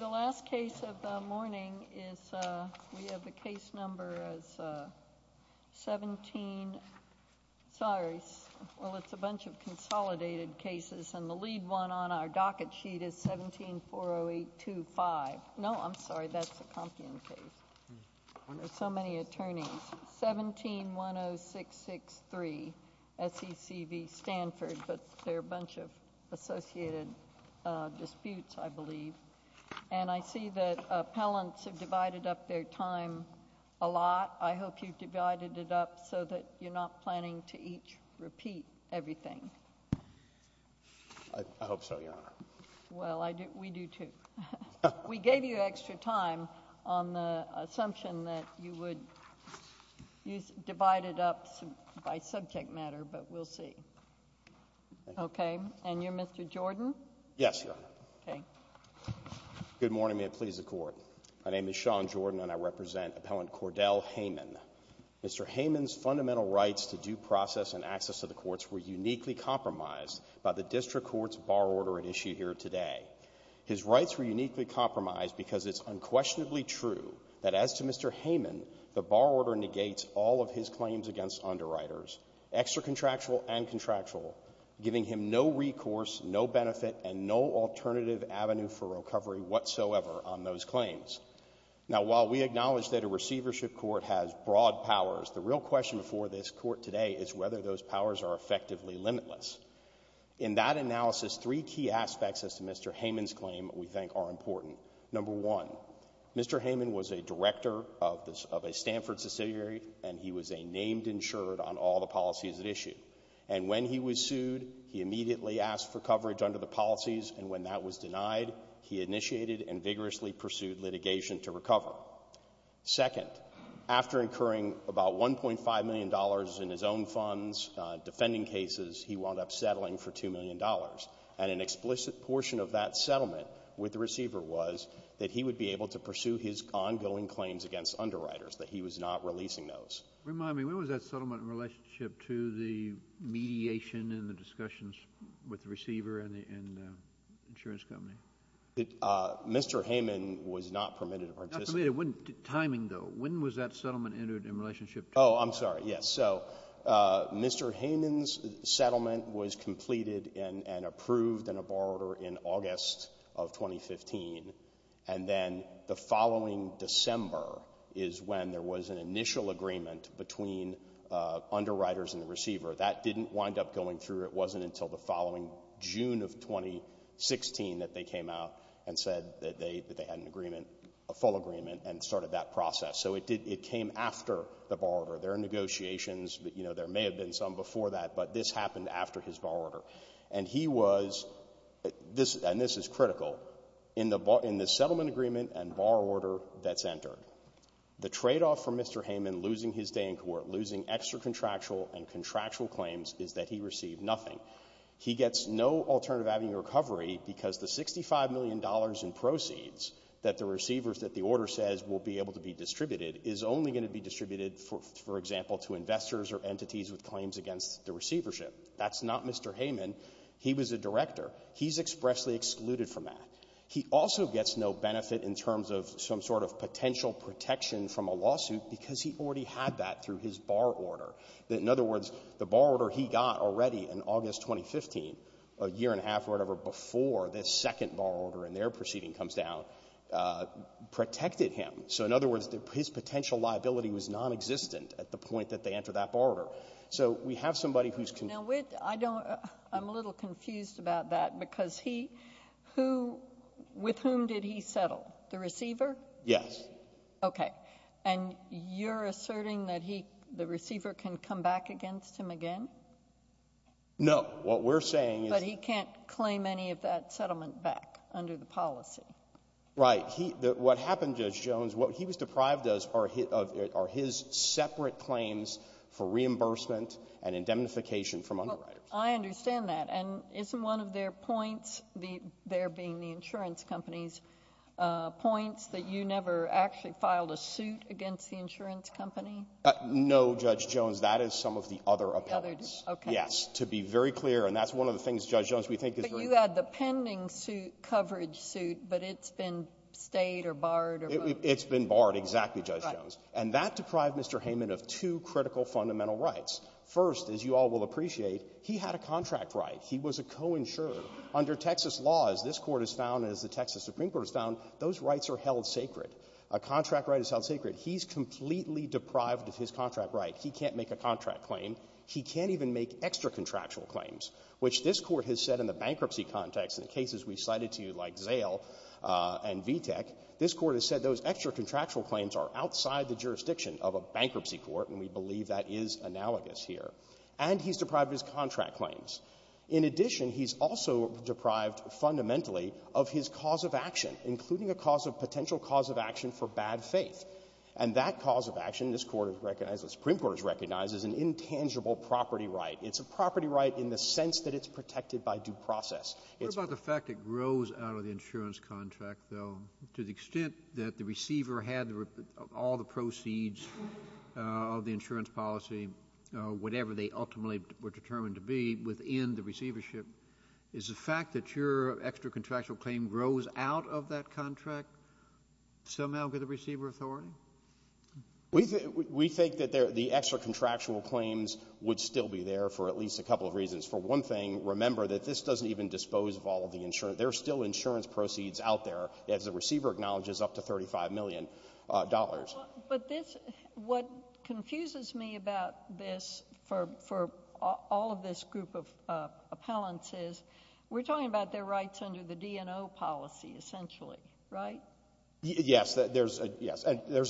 The last case of the morning is, we have the case number as 17, sorry, well it's a bunch of consolidated cases, and the lead one on our docket sheet is 1740825. No, I'm sorry, that's the complaint case. There's so many attorneys. 1710663, FECB, Stanford, but they're a bunch of associated disputes, I believe, and I see that appellants have divided up their time a lot. I hope you've divided it up so that you're not planning to each repeat everything. I hope so, Your Honor. Well, we do too. We gave you extra time on the assumption that you would divide it up by subject matter, but we'll see. Okay, and you're Mr. Jordan? Yes, Your Honor. Okay. Good morning, and please accord. My name is Sean Jordan, and I represent Appellant Cordell Heyman. Mr. Heyman's fundamental rights to due process and access to the courts were uniquely compromised by the district court's bar order in issue here today. His rights were uniquely compromised because it's unquestionably true that as to Mr. Heyman, the bar order negates all of his claims against underwriters, extra-contractual and contractual, giving him no recourse, no benefit, and no alternative avenue for recovery whatsoever on those claims. Now, while we acknowledge that a receivership court has broad powers, the real question for this court today is whether those powers are effectively limitless. In that analysis, three key aspects as to Mr. Heyman's claim we think are important. Number one, Mr. Heyman was a director of a Stanford subsidiary, and he was a named insured on all the policies at issue. And when he was sued, he immediately asked for coverage under the policies, and when that was denied, he initiated and vigorously pursued litigation to recover. Second, after incurring about $1.5 million in his own funds defending cases, he wound up settling for $2 million, and an explicit portion of that settlement with the receiver was that he would be able to pursue his ongoing claims against underwriters, but he was not releasing those. Remind me, when was that settlement in relationship to the mediation and the discussions with the receiver and the insurance company? Mr. Heyman was not permitted to participate. Timing, though, when was that settlement entered in relationship to? Oh, I'm sorry, yes. So Mr. Heyman's settlement was completed and approved in a borrower in August of 2015, and then the following December is when there was an initial agreement between underwriters and the receiver. That didn't wind up going through. It wasn't until the following June of 2016 that they came out and said that they had an agreement, a full agreement, and started that process. So it came after the borrower. There are negotiations. You know, there may have been some before that, but this happened after his borrower. And he was, and this is critical, in the settlement agreement and borrower order that's entered, the tradeoff for Mr. Heyman losing his day in court, losing extra contractual and contractual claims is that he received nothing. He gets no alternative avenue recovery because the $65 says will be able to be distributed is only going to be distributed, for example, to investors or entities with claims against the receivership. That's not Mr. Heyman. He was a director. He's expressly excluded from that. He also gets no benefit in terms of some sort of potential protection from a lawsuit because he already had that through his borrower order. In other words, the borrower order he got already in August 2015, a year and a half or whatever before this second borrower order and their proceeding comes down, protected him. So in other words, his potential liability was non-existent at the point that they entered that borrower. So we have somebody who's... Now, I'm a little confused about that because he, who, with whom did he settle? The receiver? Yes. Okay. And you're asserting that he, the receiver can come back against him again? No. What we're saying is... Under the policy. Right. He, what happened, Judge Jones, what he was deprived of are his separate claims for reimbursement and indemnification from... I understand that. And isn't one of their points, there being the insurance companies, points that you never actually filed a suit against the insurance company? No, Judge Jones. That is some of the other appellants. Yes. To be very clear. And that's one of the things, Judge Jones, we think is very... But you had the pending suit, coverage suit, but it's been stayed or barred or... It's been barred, exactly, Judge Jones. And that deprived Mr. Heyman of two critical fundamental rights. First, as you all will appreciate, he had a contract right. He was a co-insurer. Under Texas law, as this court has found and as the Texas Supreme Court has found, those rights are held sacred. A contract right is held sacred. He's completely deprived of his contract right. He can't make a contract claim. He can't even make extra contractual claims, which this court has said in the bankruptcy context, in cases we cited to you like Zale and VTEC, this court has said those extra contractual claims are outside the jurisdiction of a bankruptcy court, and we believe that is analogous here. And he's deprived his contract claims. In addition, he's also deprived, fundamentally, of his cause of action, including a cause of potential cause of action for bad faith. And that cause of action, this court has recognized, the Supreme Court has recognized, is an intangible property right. It's a property right in the sense that it's protected by due process. What about the fact that it grows out of the insurance contract, though, to the extent that the receiver had all the proceeds of the insurance policy, whatever they ultimately were determined to be, within the receivership? Is the fact that your extra contractual claim grows out of that contract somehow for the receiver authority? We think that the extra contractual claims would still be there for at least a couple of reasons. For one thing, remember that this doesn't even dispose of all of the insurance. There are still insurance proceeds out there, as the receiver acknowledges, up to $35 million. But this, what confuses me about this for all of this group of appellants is, we're talking about their rights under the DNO policy, essentially, right? Yes, there's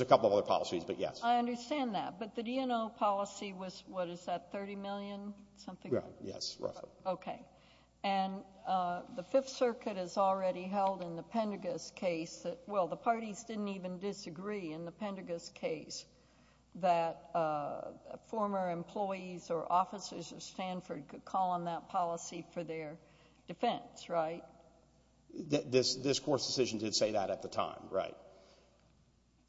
a couple of other policies, but yes. I understand that. But the DNO policy was, what is that, $30 million, something like that? Yes, right. Okay. And the Fifth Circuit has already held in the Pendagos case that, well, the parties didn't even disagree in the Pendagos case that former employees or officers of Stanford could call on that policy for their defense, right? This court's decision did say that at the time, right.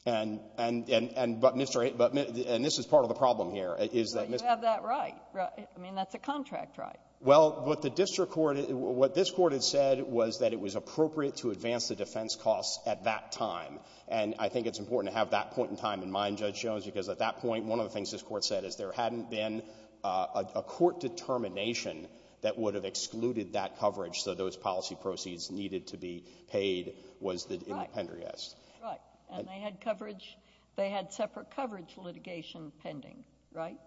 And this is part of the problem here, is that- But you have that right. I mean, that's a contract right. Well, but the district court, what this court had said was that it was appropriate to advance the defense costs at that time. And I think it's important to have that point in time in mind, Judge Jones, because at that point, one of the things this court said is there hadn't been a court determination that would have excluded that coverage. So those policy proceeds needed to be paid was in the Pendagos. Right. And they had coverage. They had separate coverage for litigation pending, right?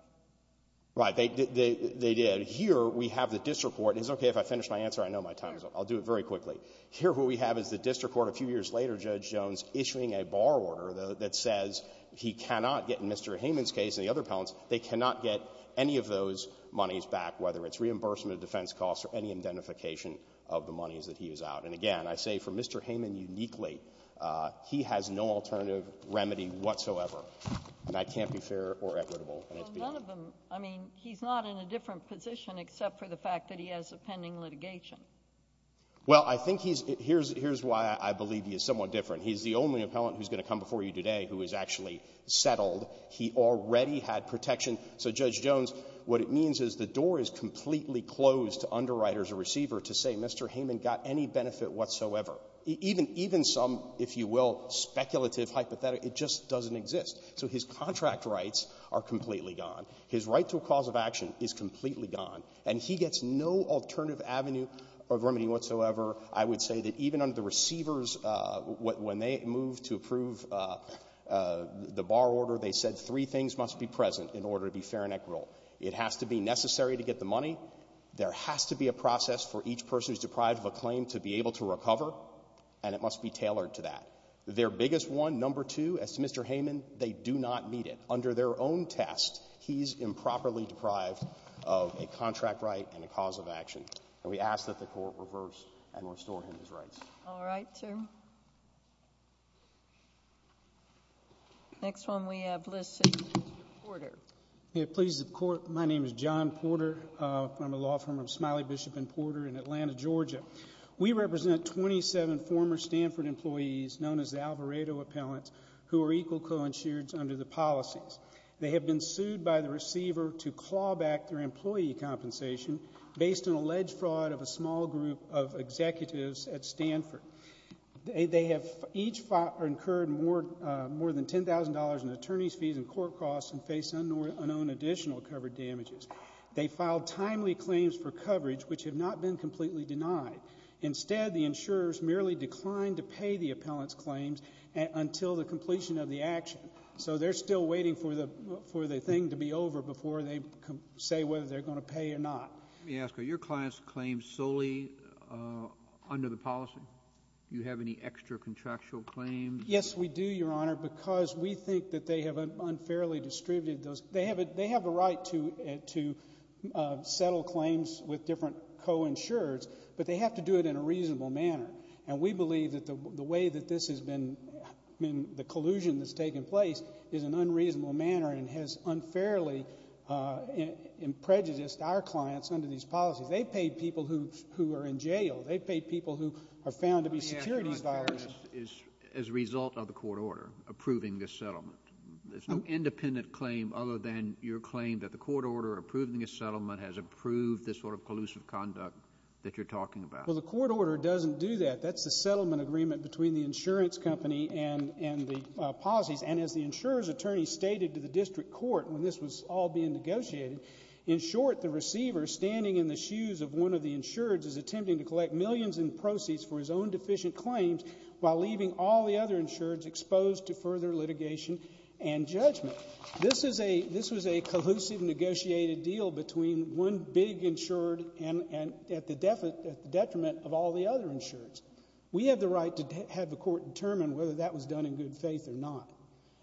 Right. They did. Here, we have the district court. It's okay if I finish my answer. I know my time is up. I'll do it very quickly. Here, what we have is the district court a few years later, Judge Jones, issuing a bar order that says he cannot get, in Mr. Hayman's case and the other they cannot get any of those monies back, whether it's reimbursement of defense costs or any identification of the monies that he is out. And again, I say for Mr. Hayman uniquely, he has no alternative remedy whatsoever. And that can't be fair or equitable. Well, none of them. I mean, he's not in a different position except for the fact that he has a pending litigation. Well, I think he's- Here's why I believe he is somewhat different. He's the only appellant who's going to come before you today who is settled. He already had protection. So Judge Jones, what it means is the door is completely closed to underwriters or receiver to say Mr. Hayman got any benefit whatsoever. Even some, if you will, speculative hypothetical, it just doesn't exist. So his contract rights are completely gone. His right to a cause of action is completely gone. And he gets no alternative avenue of remedy whatsoever. I would say that even under the receivers, when they moved to approve the bar order, they said three things must be present in order to be fair and equitable. It has to be necessary to get the money. There has to be a process for each person who's deprived of a claim to be able to recover. And it must be tailored to that. Their biggest one, number two, as Mr. Hayman, they do not need it. Under their own tests, he's improperly deprived of a contract right and a cause of action. And we ask that the court reverse and restore him his rights. All right, sir. Next one we have, Mr. Porter. Please, the court. My name is John Porter. I'm a law firm. I'm Smiley, Bishop and Porter in Atlanta, Georgia. We represent 27 former Stanford employees known as the Alvarado Appellants who are equal co-insured under the policies. They have been sued by the executives at Stanford. They have each incurred more than $10,000 in attorney's fees and court costs and face unowned additional covered damages. They filed timely claims for coverage, which have not been completely denied. Instead, the insurers merely declined to pay the appellant's claims until the completion of the action. So they're still waiting for the thing to be over before they say whether they're going to pay or not. May I ask, are your client's claims solely under the policy? Do you have any extra contractual claims? Yes, we do, Your Honor, because we think that they have unfairly distributed those. They have a right to settle claims with different co-insurers, but they have to do it in a reasonable manner. And we believe that the way that this has been, I mean, the collusion that's taken place in an unreasonable manner and has unfairly prejudiced our clients under these policies. They've paid people who are in jail. They've paid people who are found to be securities buyers. Is as a result of the court order approving this settlement, there's no independent claim other than your claim that the court order approving a settlement has approved this sort of pollusive conduct that you're talking about? Well, the court order doesn't do that. That's the settlement agreement between the insurance company and the policy. And as the insurer's attorney stated to district court when this was all being negotiated, in short, the receiver standing in the shoes of one of the insureds is attempting to collect millions in proceeds for his own deficient claims while leaving all the other insureds exposed to further litigation and judgment. This is a this was a cohesive negotiated deal between one big insured and at the detriment of all the other insureds. We have the right to have the court determine whether that was done in good faith or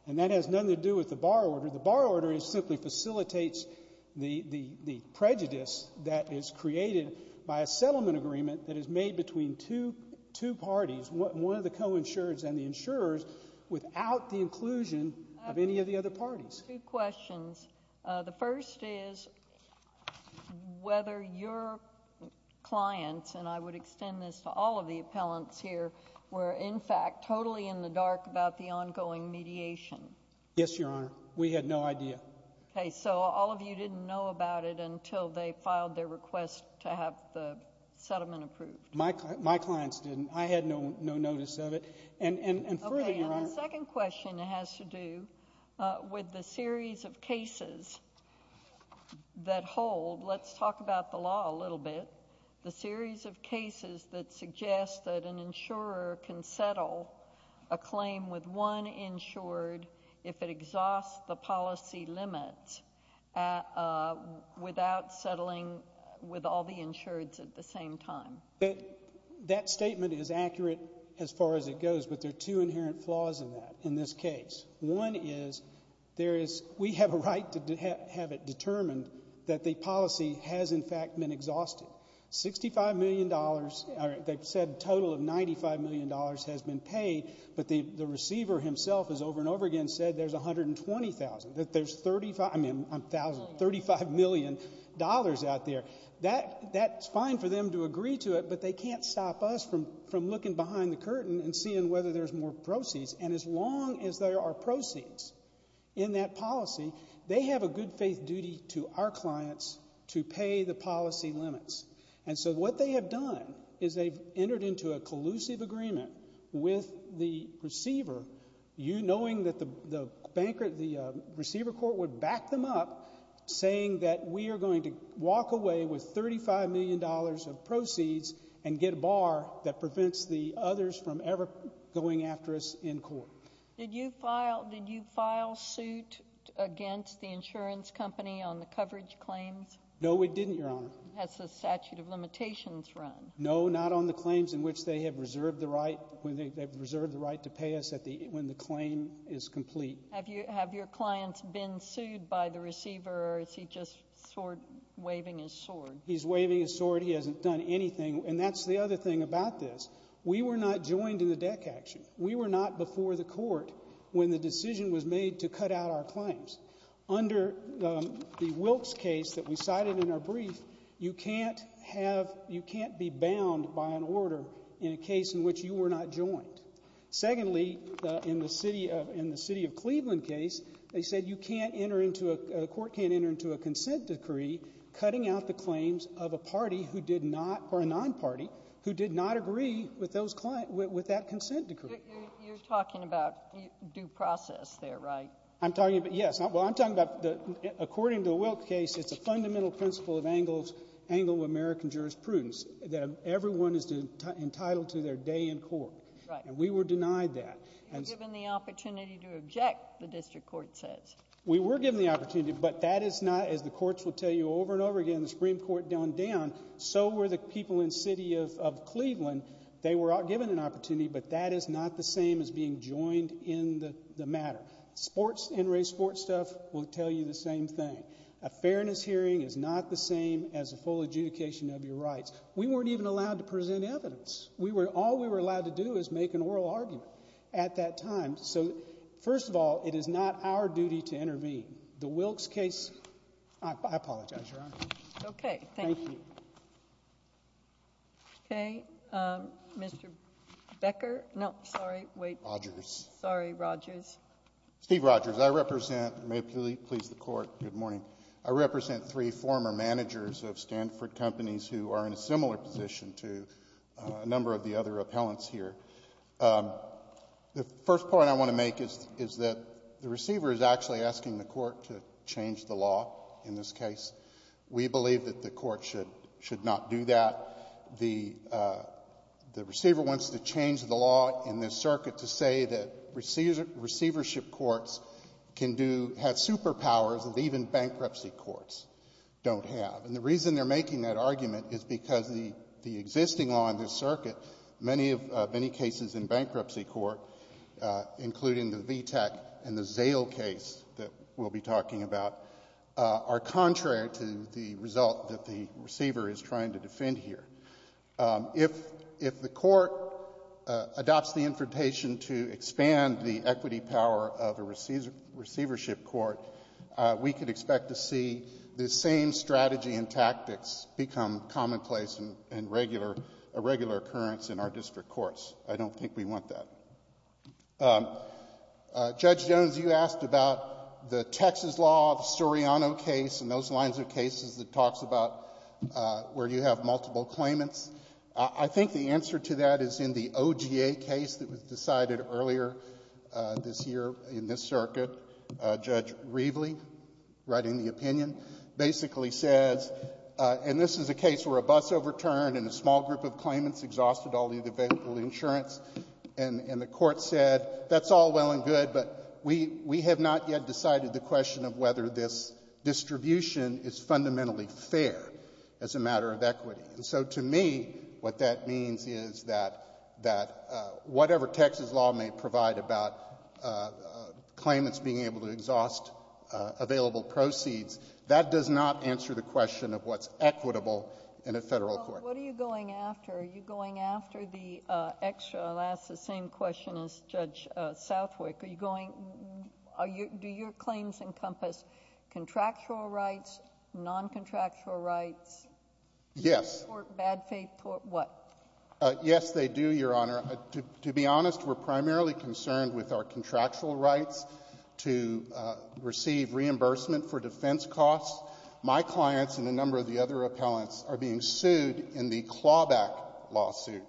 And that has nothing to do with the bar order. The bar order simply facilitates the prejudice that is created by a settlement agreement that is made between two parties, one of the co-insureds and the insurers, without the inclusion of any of the other parties. Two questions. The first is whether your clients, and I would extend this to all of the appellants here, were in fact totally in the dark about the ongoing mediation. Yes, Your Honor. We had no idea. Okay, so all of you didn't know about it until they filed their request to have the settlement approved. My clients didn't. I had no notice of it. And the second question has to do with the series of cases that hold, let's talk about the law a little bit, the series of cases that suggest that an insurer can settle a claim with one insured if it exhausts the policy limits without settling with all the insureds at the same time. That statement is accurate as far as it goes, but there are two inherent flaws in that, in this case. One is, we have a right to have it determined that the policy has in fact been exhausted. $65 million, or they've said a total of $95 million has been paid, but the receiver himself has over and over again said there's $120,000, that there's $35 million out there. That's fine for them to agree to it, but they can't stop us from looking behind the curtain and seeing whether there's more proceeds. And as long as there are proceeds in that policy, they have a good faith duty to our clients to pay the policy limits. And so, what they have done is they've entered into a collusive agreement with the receiver, you knowing that the receiver court would back them up, saying that we are going to walk away with $35 million of proceeds and get a bar that prevents the others from ever going after us in the future. Did you file suit against the insurance company on the coverage claims? No, we didn't, Your Honor. Has the statute of limitations run? No, not on the claims in which they have reserved the right to pay us when the claim is complete. Have your clients been sued by the receiver, or is he just waving his sword? He's waving his sword. He hasn't done anything. And that's the other thing about this. We were not joined in the deck action. We were not before the court when the decision was made to cut out our claims. Under the Wilkes case that we cited in our brief, you can't have, you can't be bound by an order in a case in which you were not joined. Secondly, in the city of Cleveland case, they said you can't enter into, a court can't enter into a consent decree cutting out the claims of a party who did not, or a non-party, who did not agree with that consent decree. You're talking about due process there, right? I'm talking about, yes. Well, I'm talking about, according to the Wilkes case, it's a fundamental principle of Anglo-American jurisprudence that everyone is entitled to their day in court. And we were denied that. You were given the opportunity to object, the district court says. We were given the opportunity, but that is not, as the courts will tell you over and over again, the Supreme Court downed down, so were the people in the city of Cleveland. They were given an opportunity, but that is not the same as being joined in the matter. Sports, NRA sports stuff will tell you the same thing. A fairness hearing is not the same as a full adjudication of your rights. We weren't even allowed to present evidence. We were, all we were allowed to do was make an oral argument at that time. So, first of all, it is not our duty to intervene. The Wilkes case, I apologize, Your Honor. Okay. Thank you. Okay, Mr. Becker, no, sorry, wait. Rogers. Sorry, Rogers. Steve Rogers. I represent, may it please the court, good morning. I represent three former managers of Stanford companies who are in a similar position to a number of the other courts. The first point I want to make is that the receiver is actually asking the court to change the law in this case. We believe that the court should not do that. The receiver wants to change the law in this circuit to say that receivership courts can do, have superpowers that even bankruptcy courts don't have. And the reason they're making that argument is because the existing law in this circuit, many cases in bankruptcy court, including the VTAC and the Zale case that we'll be talking about, are contrary to the result that the receiver is trying to defend here. If the court adopts the interpretation to expand the equity power of a regular occurrence in our district courts, I don't think we want that. Judge Jones, you asked about the Texas law, the Suriano case, and those lines of cases that talks about where you have multiple claimants. I think the answer to that is in the OGA case that was decided earlier this year in this circuit. Judge Reveley, writing the opinion, basically says, and this is a case where a bus overturned and a small group of claimants exhausted all the available insurance, and the court said, that's all well and good, but we have not yet decided the question of whether this distribution is fundamentally fair as a matter of equity. So to me, what that means is that whatever Texas law may provide about claimants being able to exhaust available proceeds, that does not answer the question of what's equitable in a federal court. Well, what are you going after? Are you going after the extra, I'll ask the same question as Judge Southwick, are you going, do your claims encompass contractual rights, non-contractual rights? Yes. Bad faith court, what? Yes, they do, Your Honor. To be honest, we're primarily concerned with our contractual rights to receive reimbursement for defense costs. My clients and a number of the other appellants are being sued in the Clawback lawsuit,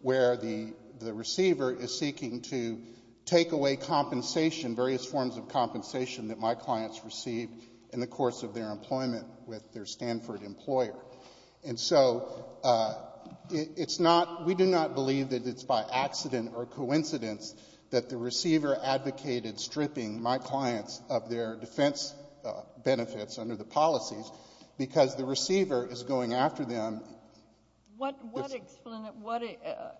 where the receiver is seeking to take away compensation, various forms of compensation that my clients receive in the course of their employment with their Stanford employer. And so it's not, we do not believe that it's by accident or coincidence that the receiver advocated stripping my clients of their defense benefits under the policies, because the receiver is going after them. What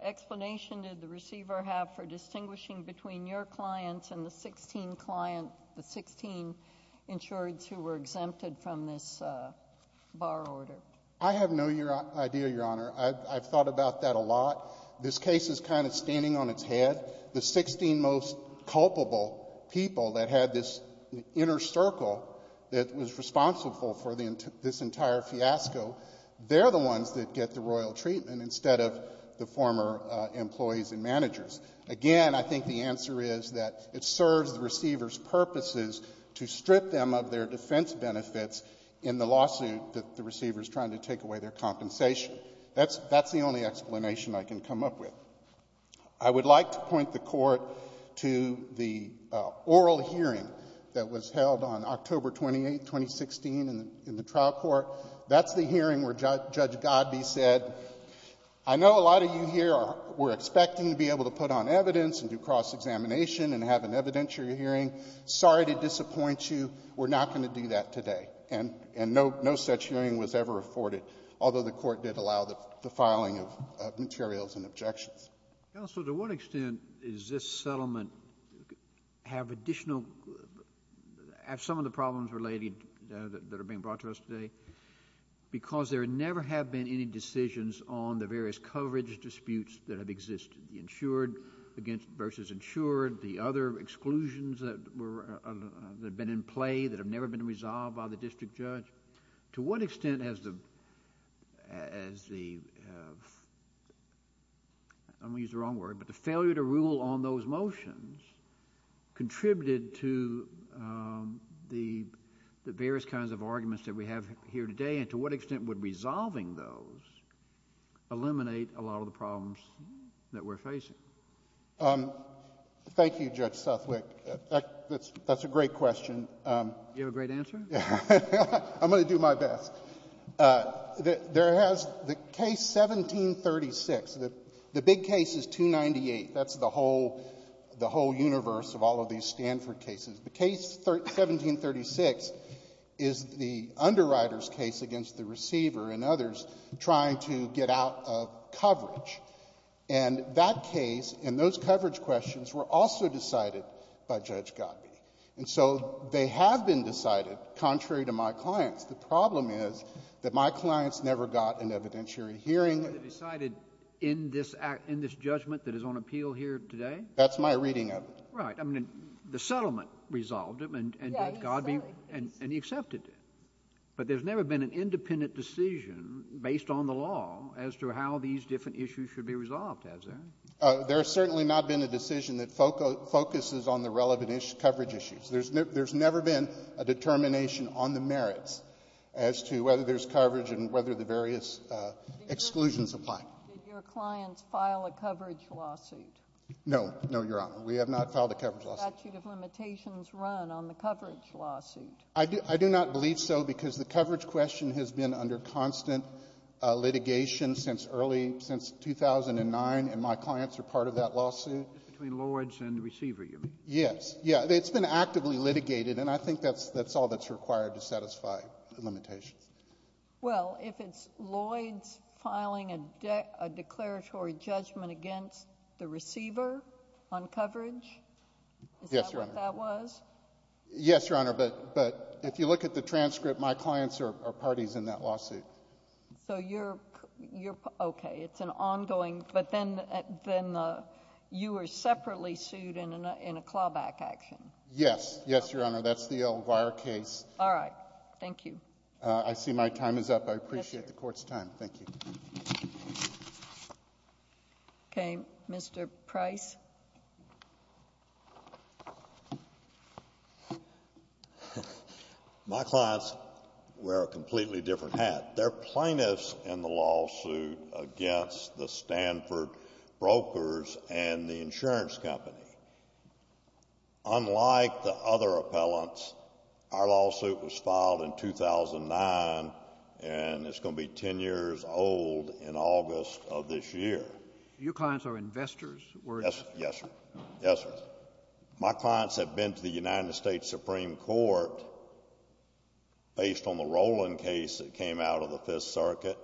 explanation did the receiver have for distinguishing between your clients and the 16 clients, the 16 insured who were exempted from this bar order? I have no idea, Your Honor. I've thought about that a lot. This case is kind of standing on its head. The 16 most culpable people that had this inner circle that was responsible for this entire fiasco, they're the ones that get the royal treatment instead of the former employees and managers. Again, I think the answer is that it serves the receiver's purposes to strip them of their defense benefits in the lawsuit that the receiver is trying to take away their compensation. That's the only explanation I can come up with. I would like to point the Court to the oral hearing that was held on October 28, 2016 in the trial court. That's the hearing where Judge Godbee said, I know a lot of you here were expecting to be able to put on evidence and do that. We're not going to do that today. No such hearing was ever afforded, although the Court did allow the filing of materials and objections. Counsel, to what extent does this settlement have additional, have some of the problems related that are being brought to us today? Because there never have been any decisions on the various coverage disputes that have existed, insured versus insured, the other exclusions that have been in play that have never been resolved by the district judge. To what extent has the, I'm going to use the wrong word, but the failure to rule on those motions contributed to the various kinds of arguments that we have here today, and to what extent would resolving those eliminate a lot of the problems that we're facing? Thank you, Judge Suffolk. That's a great question. You have a great answer? I'm going to do my best. There has, the case 1736, the big case is 298. That's the whole receiver and others trying to get out of coverage. And that case and those coverage questions were also decided by Judge Godby. And so they have been decided, contrary to my clients. The problem is that my clients never got an evidentiary hearing. They decided in this judgment that is on appeal here today? That's my reading of it. Right. I mean, the settlement resolved it and Godby accepted it. But there's never been an independent decision based on the law as to how these different issues should be resolved, has there? There's certainly not been a decision that focuses on the relevant coverage issues. There's never been a determination on the merits as to whether there's coverage and whether the various exclusions apply. Did your clients file a coverage lawsuit? No, no, Your Honor. We have not filed a I do not believe so because the coverage question has been under constant litigation since early, since 2009 and my clients are part of that lawsuit. Between Lloyds and the receiver, you mean? Yes. Yeah. It's been actively litigated and I think that's all that's required to satisfy the limitation. Well, if it's Lloyds filing a declaratory judgment against the receiver on coverage? Yes, Your Honor. Is that what that was? Yes, Your Honor. But if you look at the transcript, my clients are parties in that lawsuit. So you're okay. It's an ongoing, but then you were separately sued in a clawback action? Yes. Yes, Your Honor. That's the Elvira case. All right. Thank you. I see my time is up. I appreciate the court's time. Thank you. Okay. Mr. Price? My clients wear a completely different hat. They're plaintiffs in the lawsuit against the Stanford brokers and the insurance company. Unlike the other appellants, our lawsuit was in August of this year. Your clients are investors? Yes, sir. Yes, sir. My clients have been to the United States Supreme Court based on the Roland case that came out of the Fifth Circuit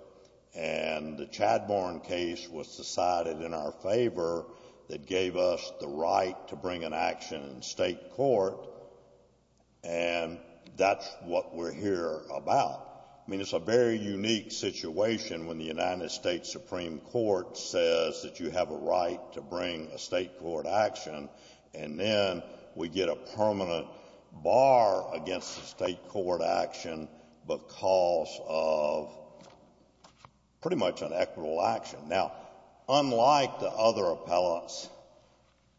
and the Chadbourne case was decided in our favor that gave us the right to bring an action in state court and that's what we're here about. I mean, it's a very unique situation when the United States Supreme Court says that you have a right to bring a state court action and then we get a permanent bar against the state court action because of pretty much an equitable action. Now, unlike the other appellants,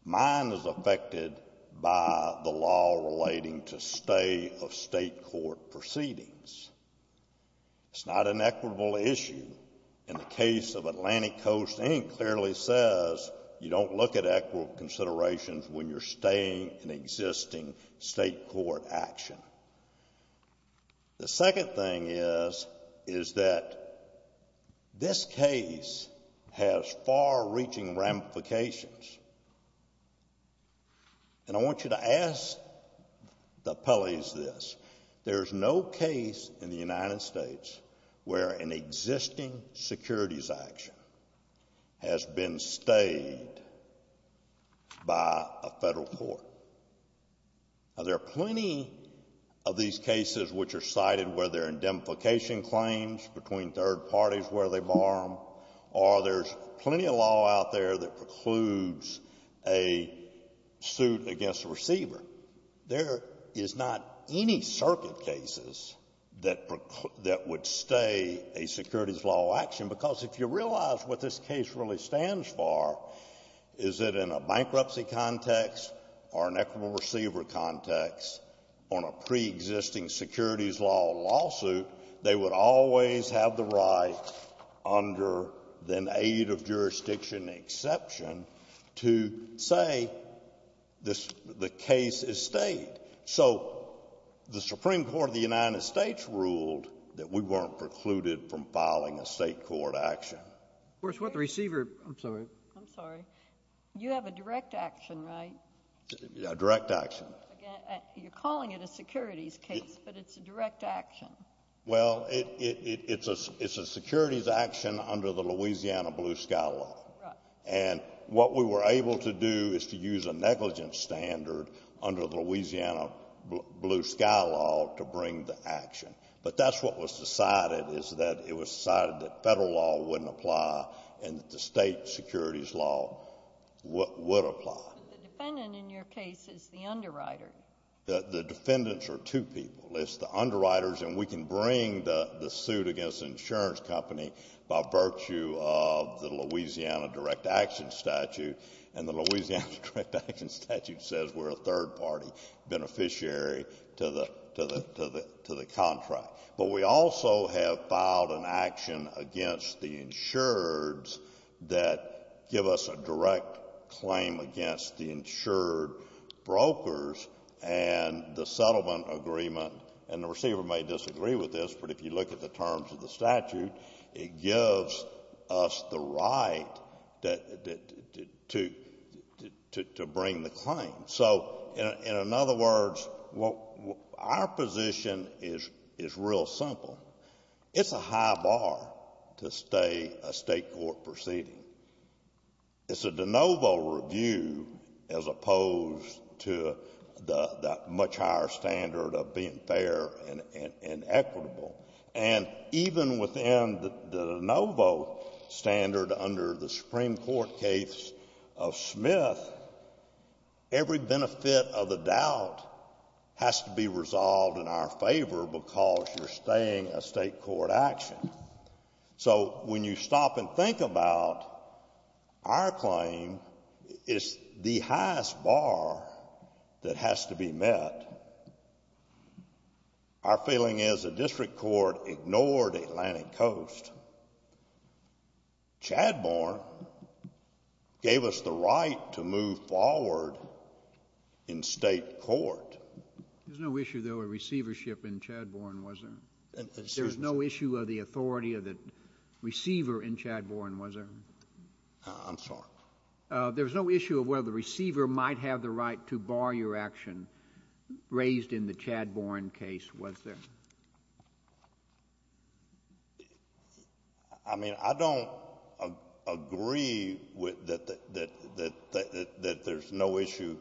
mine is affected by the law relating to stay of state court proceedings. It's not an equitable issue. In the case of Atlantic Coast, it clearly says you don't look at equitable considerations when you're staying in existing state court action. The second thing is, is that this case has far-reaching ramifications and I want you to ask the appellees this. There's no case in the United States where an existing securities action has been stayed by a federal court. Now, there are plenty of these cases which are cited where there are indemnification claims between third parties where they bar them or there's plenty of law out there that precludes a suit against a receiver. There is not any circuit cases that would stay a state court. The reason this case really stands bar is that in a bankruptcy context or an equitable receiver context on a pre-existing securities law lawsuit, they would always have the right under the aid of jurisdiction exception to say the case is stayed. So, the Supreme Court of the United States ruled that we weren't precluded from filing a state court action. You have a direct action, right? Yeah, a direct action. You're calling it a securities case, but it's a direct action. Well, it's a securities action under the Louisiana Blue Sky Law and what we were able to do is to use a negligence standard under the Louisiana Blue Sky Law to bring the action, but that's what was decided is that it was decided that federal law wouldn't apply and the state securities law would apply. The defendant in your case is the underwriter. The defendants are two people. It's the underwriters and we can bring the suit against the insurance company by virtue of the Louisiana direct action statute and the Louisiana direct action statute says we're a third party beneficiary to the contract, but we also have filed an action against the insureds that give us a direct claim against the insured brokers and the settlement agreement and the receiver may disagree with this, but if you look at the terms of the statute, it gives us the right to bring the claim. So, in other words, our position is real simple. It's a high bar to stay a state court proceeding. It's a de novo review as opposed to the much higher standard of being fair and equitable and even within the de novo standard under the Supreme Court case of Smith, every benefit of the doubt has to be resolved in our favor because you're staying a state court action. So, when you stop and think about our claim, it's the highest bar that has to be met. Our feeling is the district court ignored Atlantic Coast. Chadbourne gave us the right to move forward in state court. There's no issue though of receivership in Chadbourne, was there? There's no issue of the authority of the receiver in Chadbourne, was there? I'm sorry. There's no issue of whether the receiver might have the right to bar your action raised in the Chadbourne case, was there? I mean, I don't agree that there's no issue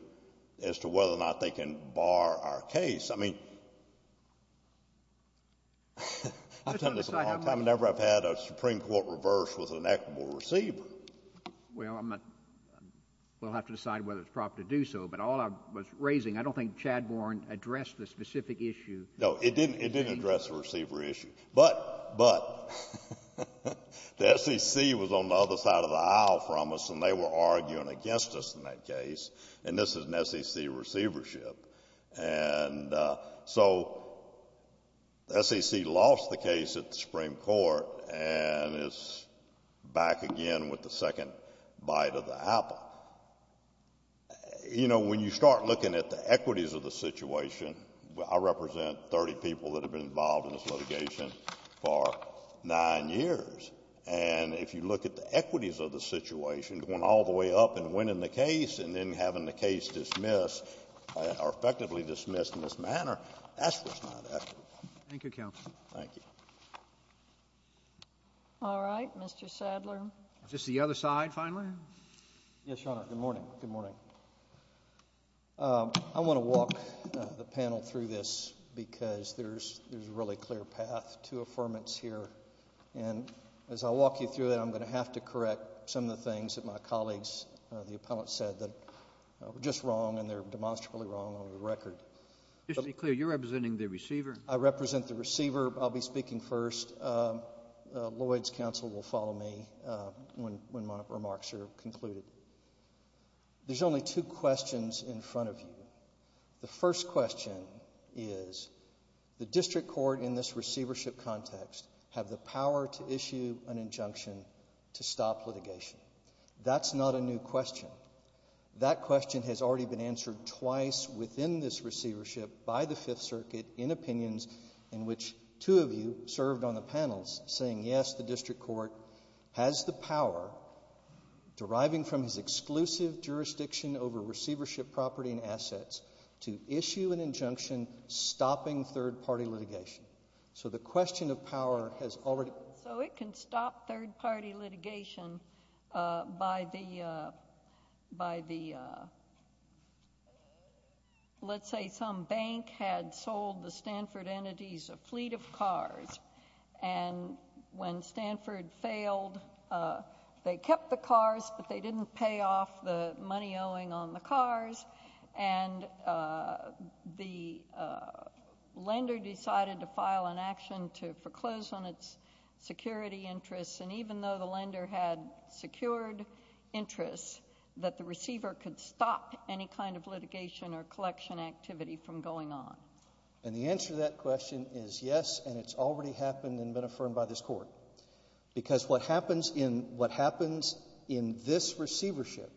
as to whether or not they can bar our case. I mean, I've never had a Supreme Court reverse with an equitable receiver. Well, we'll have to decide whether it's proper to do so, but all I was raising, I don't think Chadbourne addressed the specific issue. No, it didn't address the receiver issue, but the SEC was on the other side of the aisle from us and they were arguing against us in that case and this is an SEC receivership. And so, SEC lost the case at the Supreme Court and it's back again with the second bite of the apple. You know, when you start looking at the equities of the situation, I represent 30 people that have been involved in this litigation for nine years and if you look at the equities of the situation, going all the way up and winning the case and then having the case dismissed or effectively dismissed in this manner, that's just not ethical. Thank you, counsel. Thank you. All right, Mr. Sadler. Is this the other side finally? Yes, Your Honor. Good morning. Good morning. I want to walk the panel through this because there's a really clear path to affirmance here and as I walk you through that, I'm going to have to correct some of the things that my colleagues, the appellants, said that were just wrong and they're demonstrably wrong on the record. Just to be clear, you're representing the receiver? I represent the receiver. I'll be speaking first. Lloyd's counsel will follow me when my remarks are concluded. There's only two questions in front of you. The first question is, the district court in this receivership context have the power to issue an injunction to stop litigation. That's not a new question. That question has already been answered twice within this receivership by the Fifth Circuit in opinions in which two of you served on the panels saying, yes, the district court has the power, deriving from his exclusive jurisdiction over receivership property and assets, to issue an injunction stopping third-party litigation. So the question of power has already... So it can stop third-party litigation by the, let's say some bank had sold the Stanford entities a fleet of cars, and when Stanford failed, they kept the cars, but they didn't pay off the money owing on the cars. And the lender decided to file an action to foreclose on its security interests. And even though the lender had secured interests, that the receiver could stop any kind of litigation or collection activity from going on. And the answer to that question is yes, and it's already happened and been affirmed by this court. Because what happens in this receivership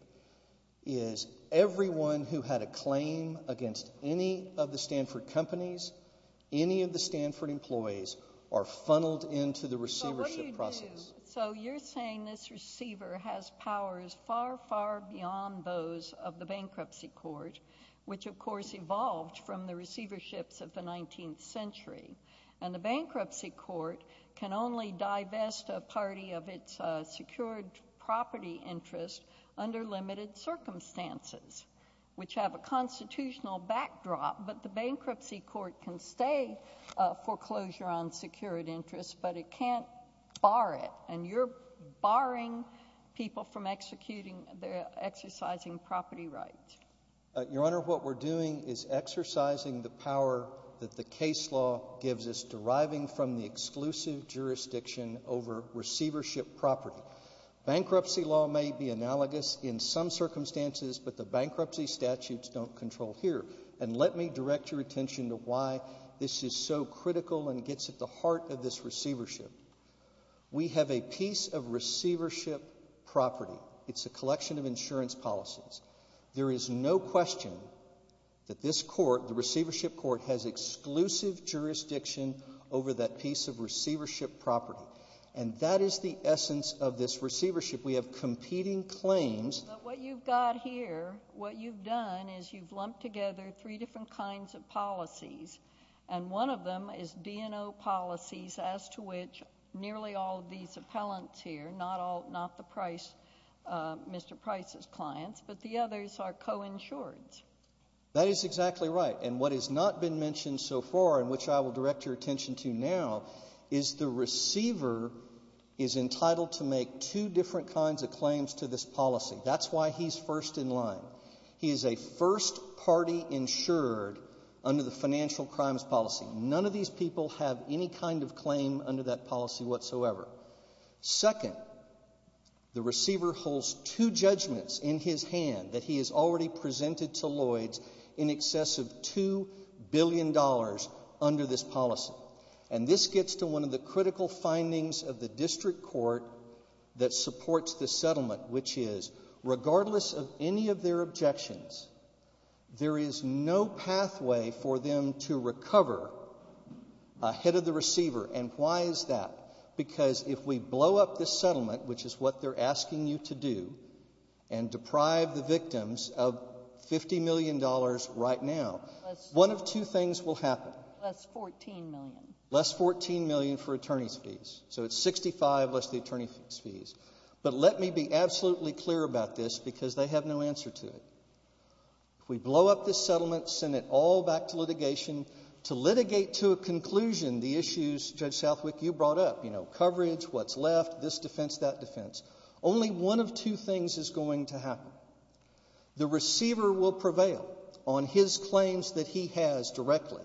is everyone who had a claim against any of the Stanford companies, any of the Stanford employees are funneled into the receivership process. So you're saying this receiver has powers far, far beyond those of the bankruptcy court, which of course evolved from the receiverships of the 19th century. And the bankruptcy court can only divest a party of its secured property interest under limited circumstances, which have a constitutional backdrop, but the bankruptcy court can stay foreclosure on secured interests, but it can't bar it. And you're barring people from executing their exercising property rights. Your Honor, what we're doing is exercising the power that the case law gives us deriving from the exclusive jurisdiction over receivership property. Bankruptcy law may be analogous in some circumstances, but the bankruptcy statutes don't control here. And let me direct your attention to why this is so critical and gets at the heart of this receivership. We have a piece of receivership property. It's a collection of insurance policies. There is no question that this court, the receivership court, has exclusive jurisdiction over that piece of receivership property. And that is the essence of this receivership. We have competing claims. But what you've got here, what you've done is you've lumped together three different kinds of policies. And one of them is B&O policies as to which nearly all of these appellants here, not all, not the Price, Mr. Price's clients, but the others are coinsured. That is exactly right. And what has not been mentioned so far and which I will direct your attention to now is the receiver is entitled to make two different kinds of claims to this policy. That's why he's first in line. He is a first party insured under the financial crimes policy. None of these people have any kind of claim under that policy whatsoever. Second, the receiver holds two judgments in his hand that he has already presented to Lloyds in excess of $2 billion under this policy. And this gets to one of the critical findings of the district court that supports this settlement, which is regardless of any of their objections, there is no pathway for them to recover ahead of the receiver. And why is that? Because if we blow up this settlement, which is what they're asking you to do and deprive the victims of $50 million right now, one of two things will happen. Less $14 million. Less $14 million for attorney's fees. So it's $65 less the attorney's fees. But let me be absolutely clear about this because they have no answer to it. If we blow up this settlement, send it all back to litigation to litigate to a conclusion the issues Judge Southwick, you brought up, you know, coverage, what's left, this defense, that defense. Only one of two things is going to happen. The receiver will prevail on his claims that he has directly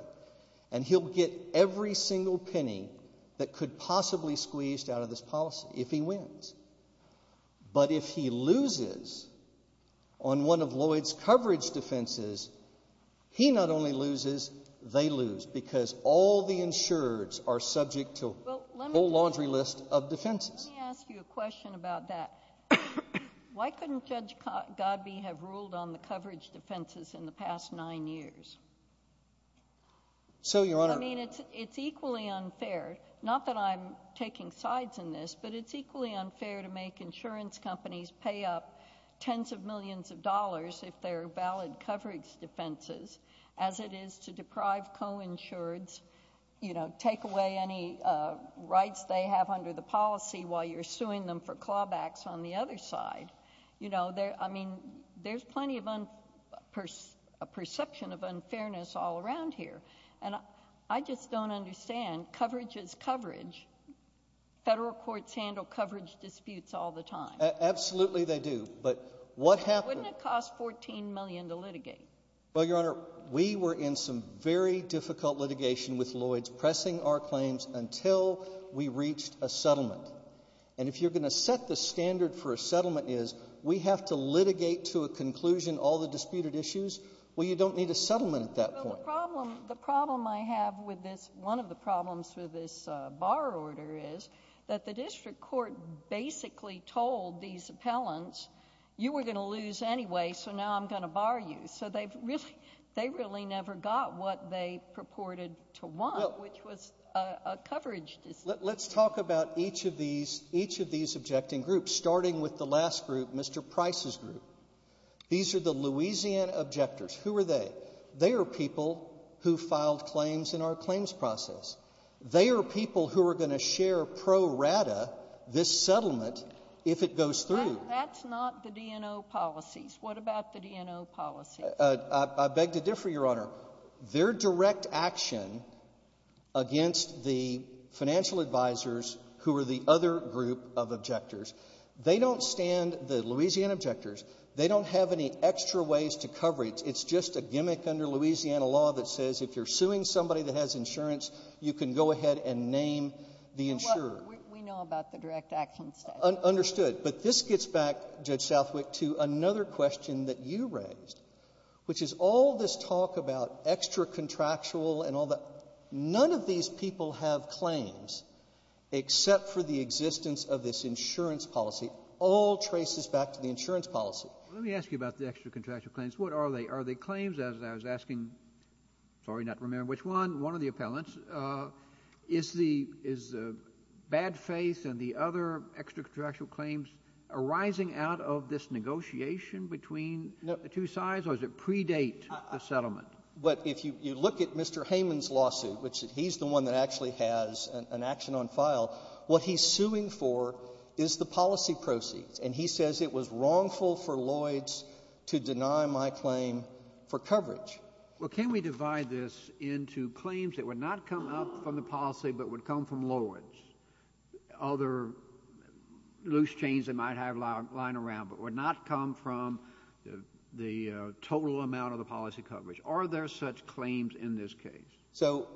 and he'll get every single penny that could possibly squeeze out of this policy if he wins. But if he loses on one of Lloyds' coverage defenses, he not only loses, they lose because all the insurers are subject to a whole laundry list of defenses. Let me ask you a question about that. Why couldn't Judge Godbee have ruled on the coverage defenses in the past nine years? So, Your Honor. I mean, it's equally unfair, not that I'm taking sides in this, but it's equally unfair to make insurance companies pay up tens of millions of dollars if they're valid coverage defenses, as it is to deprive co-insureds, you know, take away any rights they have under the policy while you're suing them for clawbacks on the other side. You know, I mean, there's plenty of a perception of unfairness all around here. And I just don't understand. Coverage is coverage. Federal courts handle coverage disputes all the time. Absolutely, they do. But what happened? It cost $14 million to litigate. Well, Your Honor, we were in some very difficult litigation with Lloyds, pressing our claims until we reached a settlement. And if you're going to set the standard for a settlement is we have to litigate to a conclusion all the disputed issues, well, you don't need a settlement at that point. The problem I have with this, one of the problems with this bar order is that the district court basically told these appellants, you were going to lose anyway, so now I'm going to bar you. So they really never got what they purported to want, which was a coverage dispute. Let's talk about each of these objecting groups, starting with the last group, Mr. Price's group. These are the Louisiana objectors. Who are they? They are people who filed claims in our claims process. They are people who are going to share pro rata this settlement if it goes through. That's not the DNO policies. What about the DNO policy? I beg to differ, Your Honor. They're direct action against the financial advisors who are the other group of objectors. They don't stand the Louisiana objectors. They don't have any extra ways to cover it. It's just a gimmick under Louisiana law that says if you're suing somebody that has insurance, you can go ahead and name the insurer. We know about the direct action section. Understood. But this gets back, Judge Southwick, to another question that you raised, which is all this talk about extra contractual and all that. None of these people have claims except for the existence of this insurance policy. All traces back to the insurance policy. Let me ask you about the extra contractual claims. What are they? Are they claims, as I was asking? Sorry, not remembering which one. One of the appellants. Is the bad faith and the other extra contractual claims arising out of this negotiation between the two sides, or does it predate the settlement? But if you look at Mr. Heyman's lawsuit, which he's the one that actually has an action on file, what he's suing for is the policy proceed. And he says it was wrongful for Lloyds to deny my claim for coverage. Well, can we divide this into claims that would not come up from the policy, but would come from Lloyds? Other loose chains that might have lying around, but would not come from the total amount of the policy coverage. Are there such claims in this case? So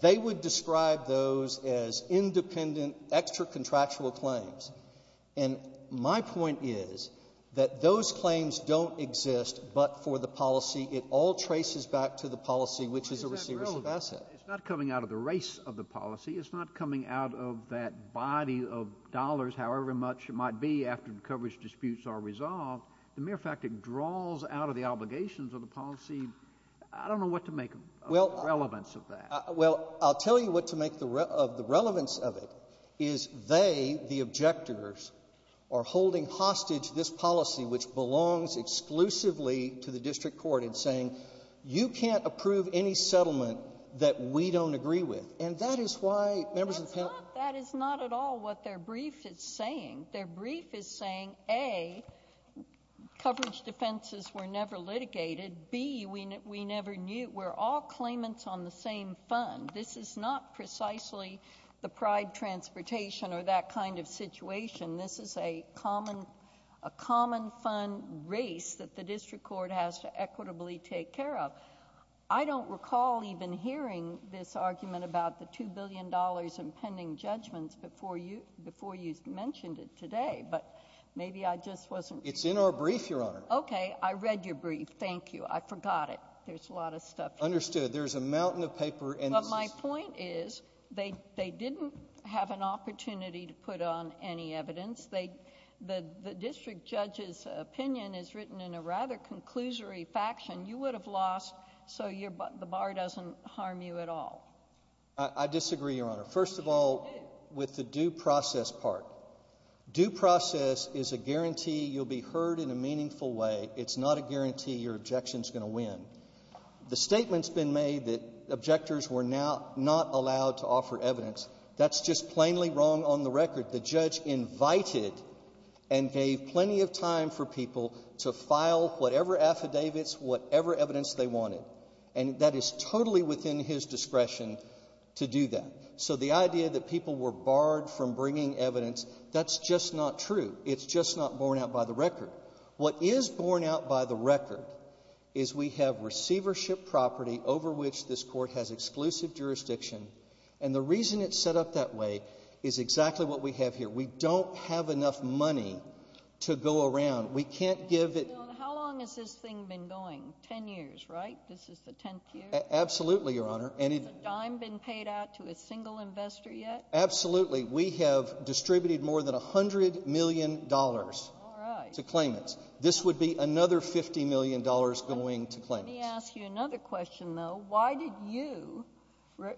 they would describe those as independent extra contractual claims. And my point is that those claims don't exist but for the policy. It all traces back to the policy, which is a receivership asset. It's not coming out of the race of the policy. It's not coming out of that body of dollars, however much it might be after the coverage disputes are resolved. The mere fact it draws out of the obligations of the policy, I don't know what to make relevance of that. Well, I'll tell you what to make of the relevance of it, is they, the objectors, are holding hostage this policy, which belongs exclusively to the district court, and saying you can't approve any settlement that we don't agree with. And that is why members of the council... That is not at all what their brief is saying. Their brief is saying, A, coverage defenses were never litigated. B, we never knew. We're all claimants on the same fund. This is not precisely the pride transportation or that kind of situation. This is a common fund race that the district court has to equitably take care of. I don't recall even hearing this argument about the $2 billion in pending judgments before you mentioned it today. But maybe I just wasn't... Okay, I read your brief. Thank you. I forgot it. There's a lot of stuff... Understood. There's a mountain of paper and... But my point is, they didn't have an opportunity to put on any evidence. The district judge's opinion is written in a rather conclusory faction. You would have lost, so the bar doesn't harm you at all. I disagree, Your Honor. First of all, with the due process part. Due process is a guarantee you'll be heard in a meaningful way. It's not a guarantee your objection's going to win. The statement's been made that objectors were not allowed to offer evidence. That's just plainly wrong on the record. The judge invited and gave plenty of time for people to file whatever affidavits, whatever evidence they wanted. And that is totally within his discretion to do that. So the idea that people were barred from bringing evidence, that's just not true. It's just not borne out by the record. What is borne out by the record is we have receivership property over which this court has exclusive jurisdiction. And the reason it's set up that way is exactly what we have here. We don't have enough money to go around. We can't give it... How long has this thing been going? 10 years, right? This is the 10th year? Absolutely, Your Honor. Has the dime been paid out to a single investor yet? Absolutely. We have distributed more than $100 million to claimants. This would be another $50 million going to claimants. Let me ask you another question, though. Why did you,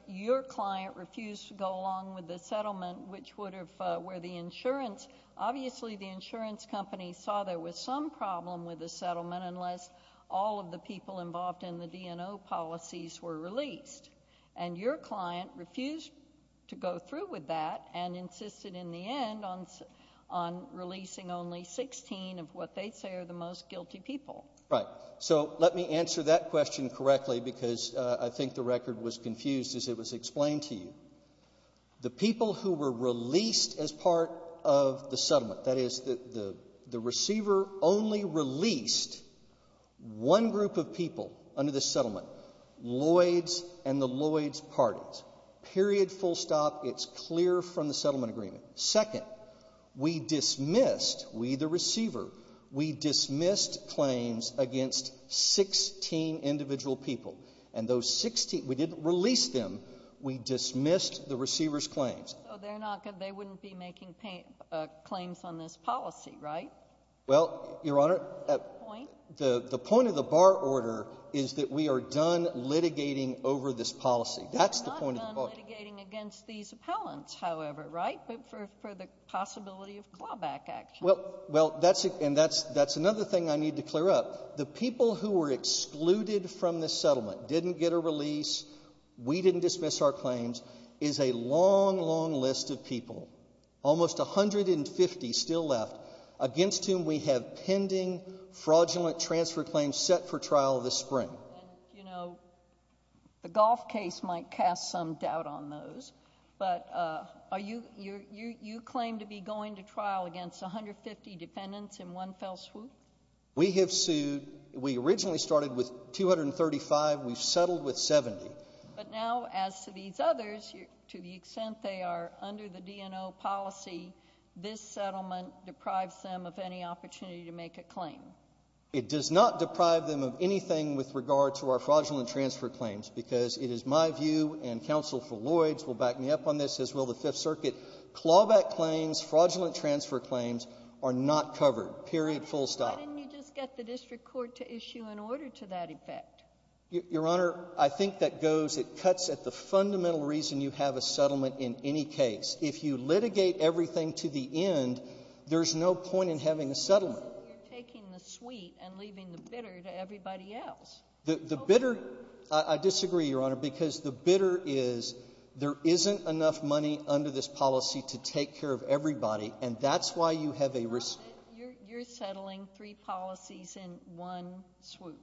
your client, refuse to go along with the settlement which would have... Where the insurance... Obviously, the insurance company saw there was some problem with the settlement unless all of the people involved in the D&O policies were released. And your client refused to go through with that and insisted in the end on releasing only 16 of what they say are the most guilty people. Right. So let me answer that question correctly because I think the record was confused as it was explained to you. The people who were released as part of the settlement, that is, the receiver only released one group of people under the settlement, Lloyd's and the Lloyd's Parties. Period. Full stop. It's clear from the settlement agreement. Second, we dismissed, we, the receiver, we dismissed claims against 16 individual people. And those 16, we didn't release them. We dismissed the receiver's claims. So they're not going... They wouldn't be making claims on this policy, right? Well, Your Honor... The point of the bar order is that we are done litigating over this policy. That's the point of the bar order. We're not done litigating against these appellants, however, right? But for the possibility of clawback action. Well, that's another thing I need to clear up. The people who were excluded from the settlement, didn't get a release, we didn't dismiss our claims, is a long, long list of people, almost 150 still left, against whom we have pending fraudulent transfer claims set for trial this spring. You know, the golf case might cast some doubt on those, but are you, you claim to be going to trial against 150 dependents in one fell swoop? We have sued, we originally started with 235, we've settled with 70. But now, as to these others, to the extent they are under the DNO policy, this settlement deprives them of any opportunity to make a claim. It does not deprive them of anything with regard to our fraudulent transfer claims, because it is my view, and counsel for Lloyds will back me up on this, as will the Fifth Circuit, clawback claims, fraudulent transfer claims, are not covered. Period. Full stop. Why didn't you just get the district court to issue an order to that effect? Your Honor, I think that goes, it cuts at the fundamental reason you have a settlement in any case. If you litigate everything to the end, there's no point in having a settlement. You're taking the sweet and leaving the bitter to everybody else. The bitter, I disagree, Your Honor, because the bitter is there isn't enough money under this policy to take care of everybody, and that's why you have a risk. You're settling three policies in one swoop.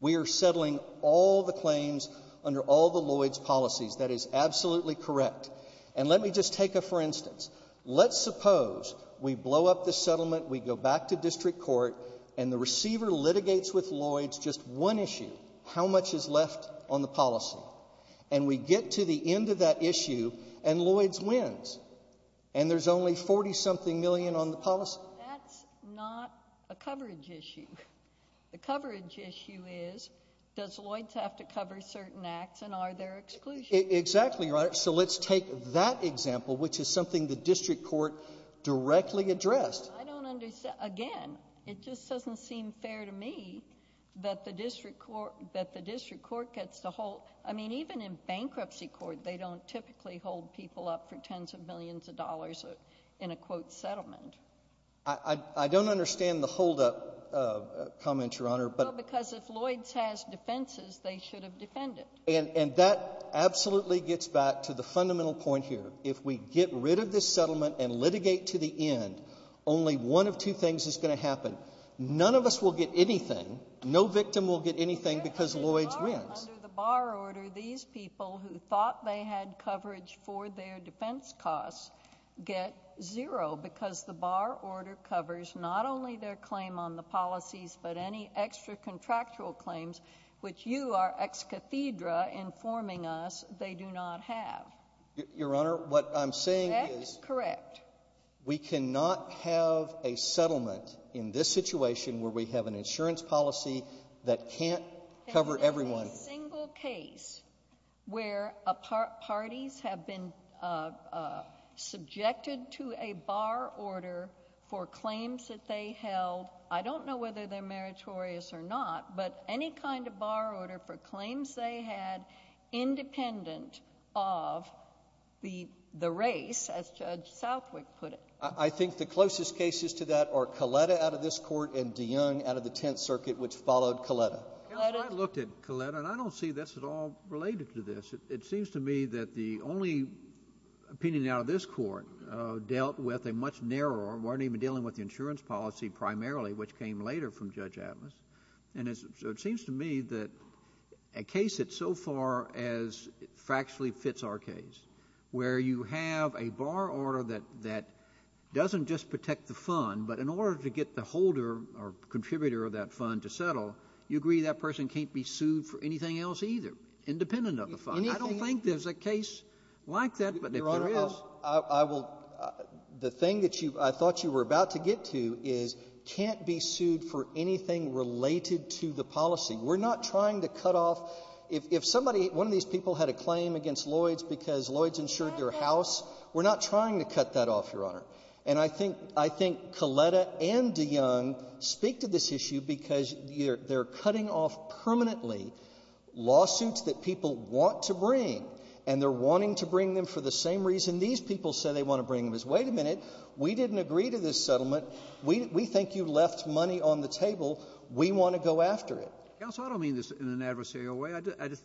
We are settling all the claims under all the Lloyds policies. That is absolutely correct. And let me just take a, for instance, let's suppose we blow up the settlement, we go back to district court, and the receiver litigates with Lloyds just one issue, how much is left on the policy, and we get to the end of that issue, and Lloyds wins, and there's only 40 something million on the policy. That's not a coverage issue. The coverage issue is, does Lloyds have to cover certain acts, and are there exclusions? Exactly right. So let's take that example, which is something the district court directly addressed. I don't understand. Again, it just doesn't seem fair to me that the district court gets the whole, I mean, even in bankruptcy court, they don't typically hold people up for tens of millions of dollars in a quote settlement. I don't understand the hold up comment, Your Honor. Because if Lloyds has defenses, they should have defended. And that absolutely gets back to the fundamental point here. If we get rid of this settlement and litigate to the end, only one of two things is going to happen. None of us will get anything. No victim will get anything because Lloyds wins. Under the bar order, these people who thought they had coverage for their defense costs get zero, because the bar order covers not only their claim on the policies, but any extra-contractual claims, which you are ex cathedra informing us they do not have. Your Honor, what I'm saying is— That's correct. We cannot have a settlement in this situation where we have an insurance policy that can't cover everyone. There's not a single case where parties have been subjected to a bar order for claims that they held. I don't know whether they're meritorious or not, but any kind of bar order for claims they had, independent of the race, as Judge Southwick put it. I think the closest cases to that are Coletta out of this court and DeYoung out of the Tenth Circuit, which followed Coletta. I looked at Coletta, and I don't see this at all related to this. It seems to me that the only opinion out of this court dealt with a much narrower—weren't dealing with the insurance policy primarily, which came later from Judge Atlas. And so it seems to me that a case that so far as factually fits our case, where you have a bar order that doesn't just protect the fund, but in order to get the holder or contributor of that fund to settle, you agree that person can't be sued for anything else either, independent of the fund. I don't think there's a case like that, but if there is— What we're about to get to is can't be sued for anything related to the policy. We're not trying to cut off—if somebody, one of these people, had a claim against Lloyds because Lloyds insured their house, we're not trying to cut that off, Your Honor. And I think Coletta and DeYoung speak to this issue because they're cutting off permanently lawsuits that people want to bring, and they're wanting to bring them for the same reason these people said they want to bring them. Wait a minute. We didn't agree to this settlement. We think you left money on the table. We want to go after it. Counsel, I don't mean this in an adversarial way. I just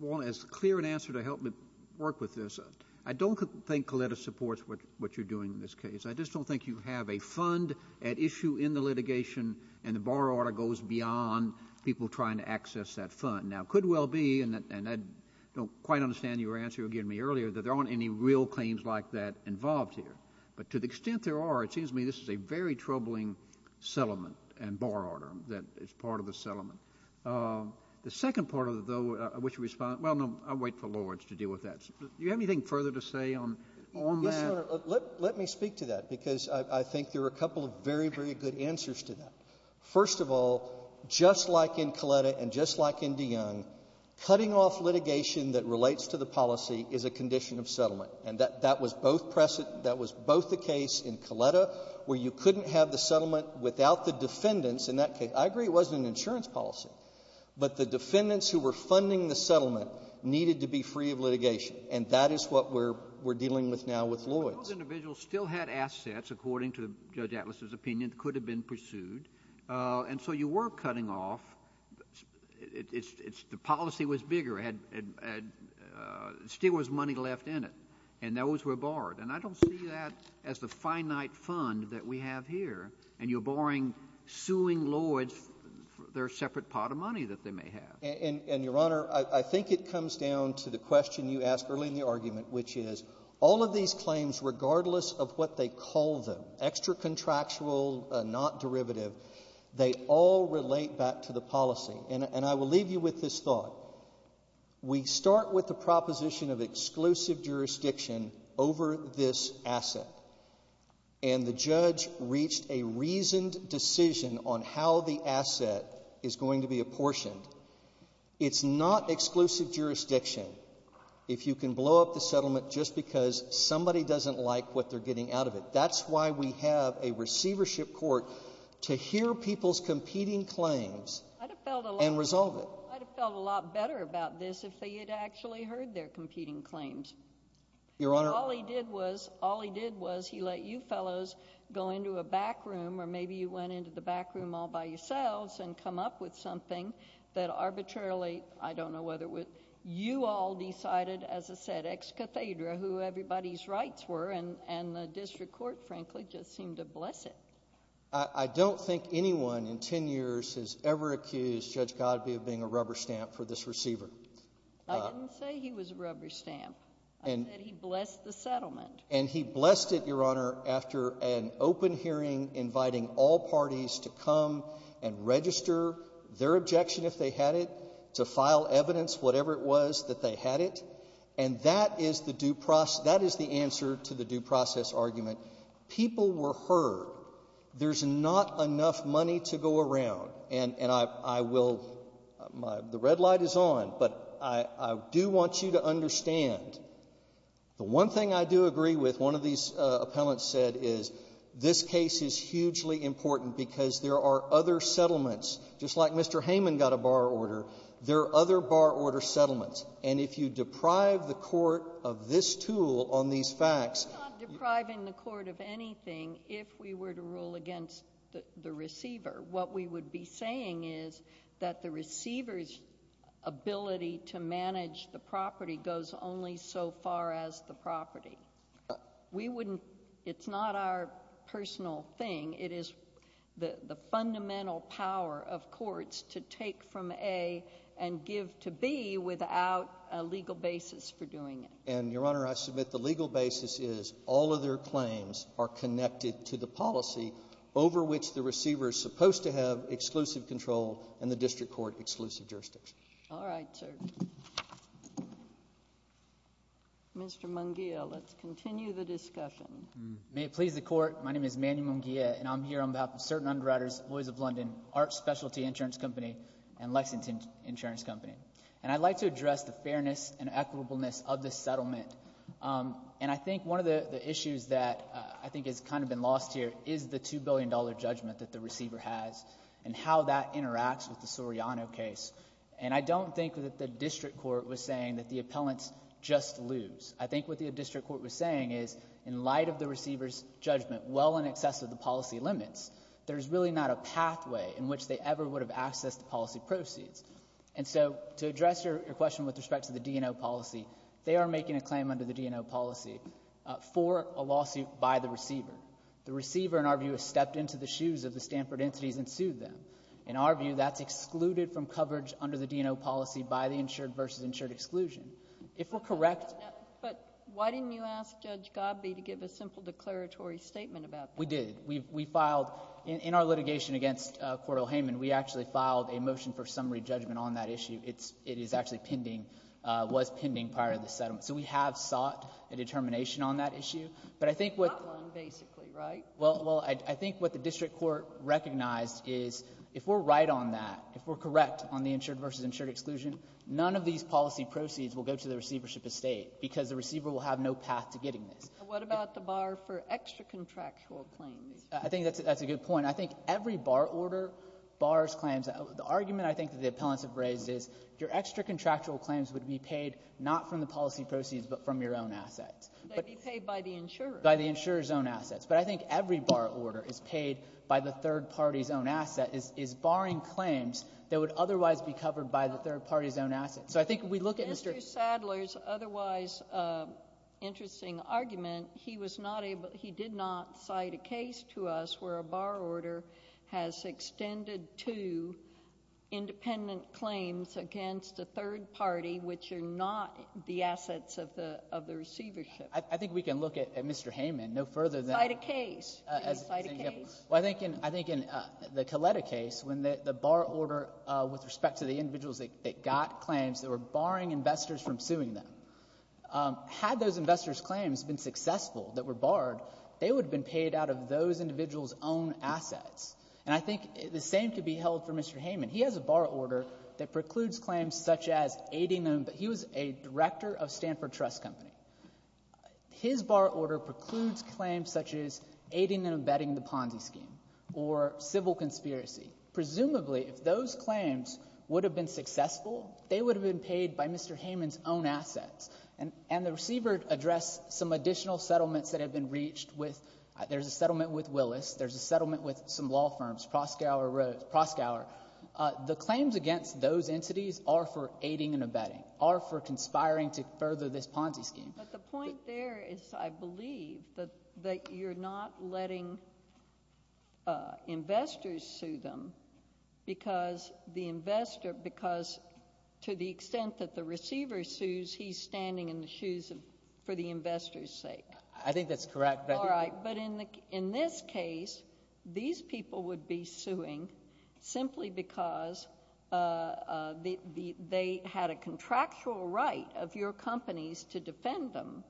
want as clear an answer to help me work with this. I don't think Coletta supports what you're doing in this case. I just don't think you have a fund at issue in the litigation, and the bar order goes beyond people trying to access that fund. Now, it could well be, and I don't quite understand your answer you gave me earlier, that there aren't any real claims like that involved here. But to the extent there are, it seems to me this is a very troubling settlement and bar order that is part of a settlement. The second part of it, though, in which we respond, well, no, I'll wait for Lloyds to deal with that. Do you have anything further to say on that? Let me speak to that because I think there are a couple of very, very good answers to that. First of all, just like in Coletta and just like in DeYoung, cutting off litigation that settlement. And that was both the case in Coletta where you couldn't have the settlement without the defendants in that case. I agree it wasn't an insurance policy, but the defendants who were funding the settlement needed to be free of litigation. And that is what we're dealing with now with Lloyds. Those individuals still had assets, according to Judge Atlas's opinion, could have been pursued. And so you were cutting off. It's the policy was bigger and still was money left in it. And those were barred. And I don't see that as the finite fund that we have here. And you're barring suing Lloyds for their separate pot of money that they may have. And, Your Honor, I think it comes down to the question you asked earlier in the argument, which is all of these claims, regardless of what they call them, extra contractual, not And I will leave you with this thought. We start with the proposition of exclusive jurisdiction over this asset. And the judge reached a reasoned decision on how the asset is going to be apportioned. It's not exclusive jurisdiction if you can blow up the settlement just because somebody doesn't like what they're getting out of it. That's why we have a receivership court to hear people's competing claims. And resolve it. I felt a lot better about this if they had actually heard their competing claims. Your Honor, all he did was all he did was he let you fellows go into a back room or maybe you went into the back room all by yourselves and come up with something that arbitrarily. I don't know whether it was you all decided, as I said, ex cathedra who everybody's rights were and the district court, frankly, just seemed to bless it. I don't think anyone in 10 years has ever accused Judge Godby of being a rubber stamp for this receiver. I didn't say he was a rubber stamp and he blessed the settlement and he blessed it, Your Honor. After an open hearing, inviting all parties to come and register their objection if they had it to file evidence, whatever it was that they had it. And that is the due process. That is the answer to the due process argument. People were hurt. There's not enough money to go around. And I will, the red light is on, but I do want you to understand, the one thing I do agree with, one of these appellants said, is this case is hugely important because there are other settlements, just like Mr. Heyman got a bar order, there are other bar order settlements. And if you deprive the court of this tool on these facts. It's not depriving the court of anything if we were to rule against the receiver. What we would be saying is that the receiver's ability to manage the property goes only so far as the property. We wouldn't, it's not our personal thing. It is the fundamental power of courts to take from A and give to B without a legal basis for doing it. And Your Honor, I submit the legal basis is all of their claims are connected to the policy over which the receiver is supposed to have exclusive control and the district court exclusive jurisdiction. All right, sir. Mr. Munguia, let's continue the discussion. May it please the court, my name is Manny Munguia and I'm here on behalf of Certain Underwriters, Boys of London, Art Specialty Insurance Company, and Lexington Insurance Company. And I'd like to address the fairness and equitableness of this settlement. And I think one of the issues that I think has kind of been lost here is the $2 billion judgment that the receiver has and how that interacts with the Soriano case. And I don't think that the district court was saying that the appellant just lose. I think what the district court was saying is in light of the receiver's judgment, well in excess of the policy limits, there's really not a pathway in which they ever would have accessed the policy proceeds. And so to address your question with respect to the D&O policy, they are making a claim under the D&O policy for a lawsuit by the receiver. The receiver, in our view, has stepped into the shoes of the Stanford entities and sued them. In our view, that's excluded from coverage under the D&O policy by the insured versus insured exclusion. If we're correct— But why didn't you ask Judge Gobby to give a simple declaratory statement about that? We did. We filed, in our litigation against Coral Heyman, we actually filed a motion for summary judgment on that issue. It is actually pending, was pending prior to the settlement. So we have sought a determination on that issue. But I think what— Not one basically, right? Well, I think what the district court recognized is if we're right on that, if we're correct on the insured versus insured exclusion, none of these policy proceeds will go to the receivership estate because the receiver will have no path to getting it. What about the bar for extra contractual claims? I think that's a good point. I think every bar order bars claims. The argument I think that the appellants have raised is your extra contractual claims would be paid not from the policy proceeds but from your own assets. They'd be paid by the insurer. By the insurer's own assets. But I think every bar order is paid by the third party's own asset is barring claims that would otherwise be covered by the third party's own assets. So I think if we look at Mr.— Mr. Sadler's otherwise interesting argument, he was not able—he did not cite a case to us where a bar order has extended to independent claims against the third party which are not the assets of the receivership. I think we can look at Mr. Hayman no further than— Cite a case. Cite a case. Well, I think in the Coletta case when the bar order with respect to the individuals that got claims that were barring investors from suing them, had those investors' claims been successful, that were barred, they would have been paid out of those individuals' own assets. And I think the same could be held for Mr. Hayman. He has a bar order that precludes claims such as aiding and—he was a director of Stanford Trust Company. His bar order precludes claims such as aiding and abetting the Ponzi scheme or civil conspiracy. Presumably, if those claims would have been successful, they would have been paid by Mr. Hayman's own assets. And the receiver addressed some additional settlements that have been reached with—there's a settlement with Willis. There's a settlement with some law firms—Proskauer. The claims against those entities are for aiding and abetting, are for conspiring to further this Ponzi scheme. But the point there is, I believe, that you're not letting investors sue them because the extent that the receiver sues, he's standing in the shoes of—for the investors' sake. I think that's correct. All right. But in this case, these people would be suing simply because they had a contractual right of your companies to defend them,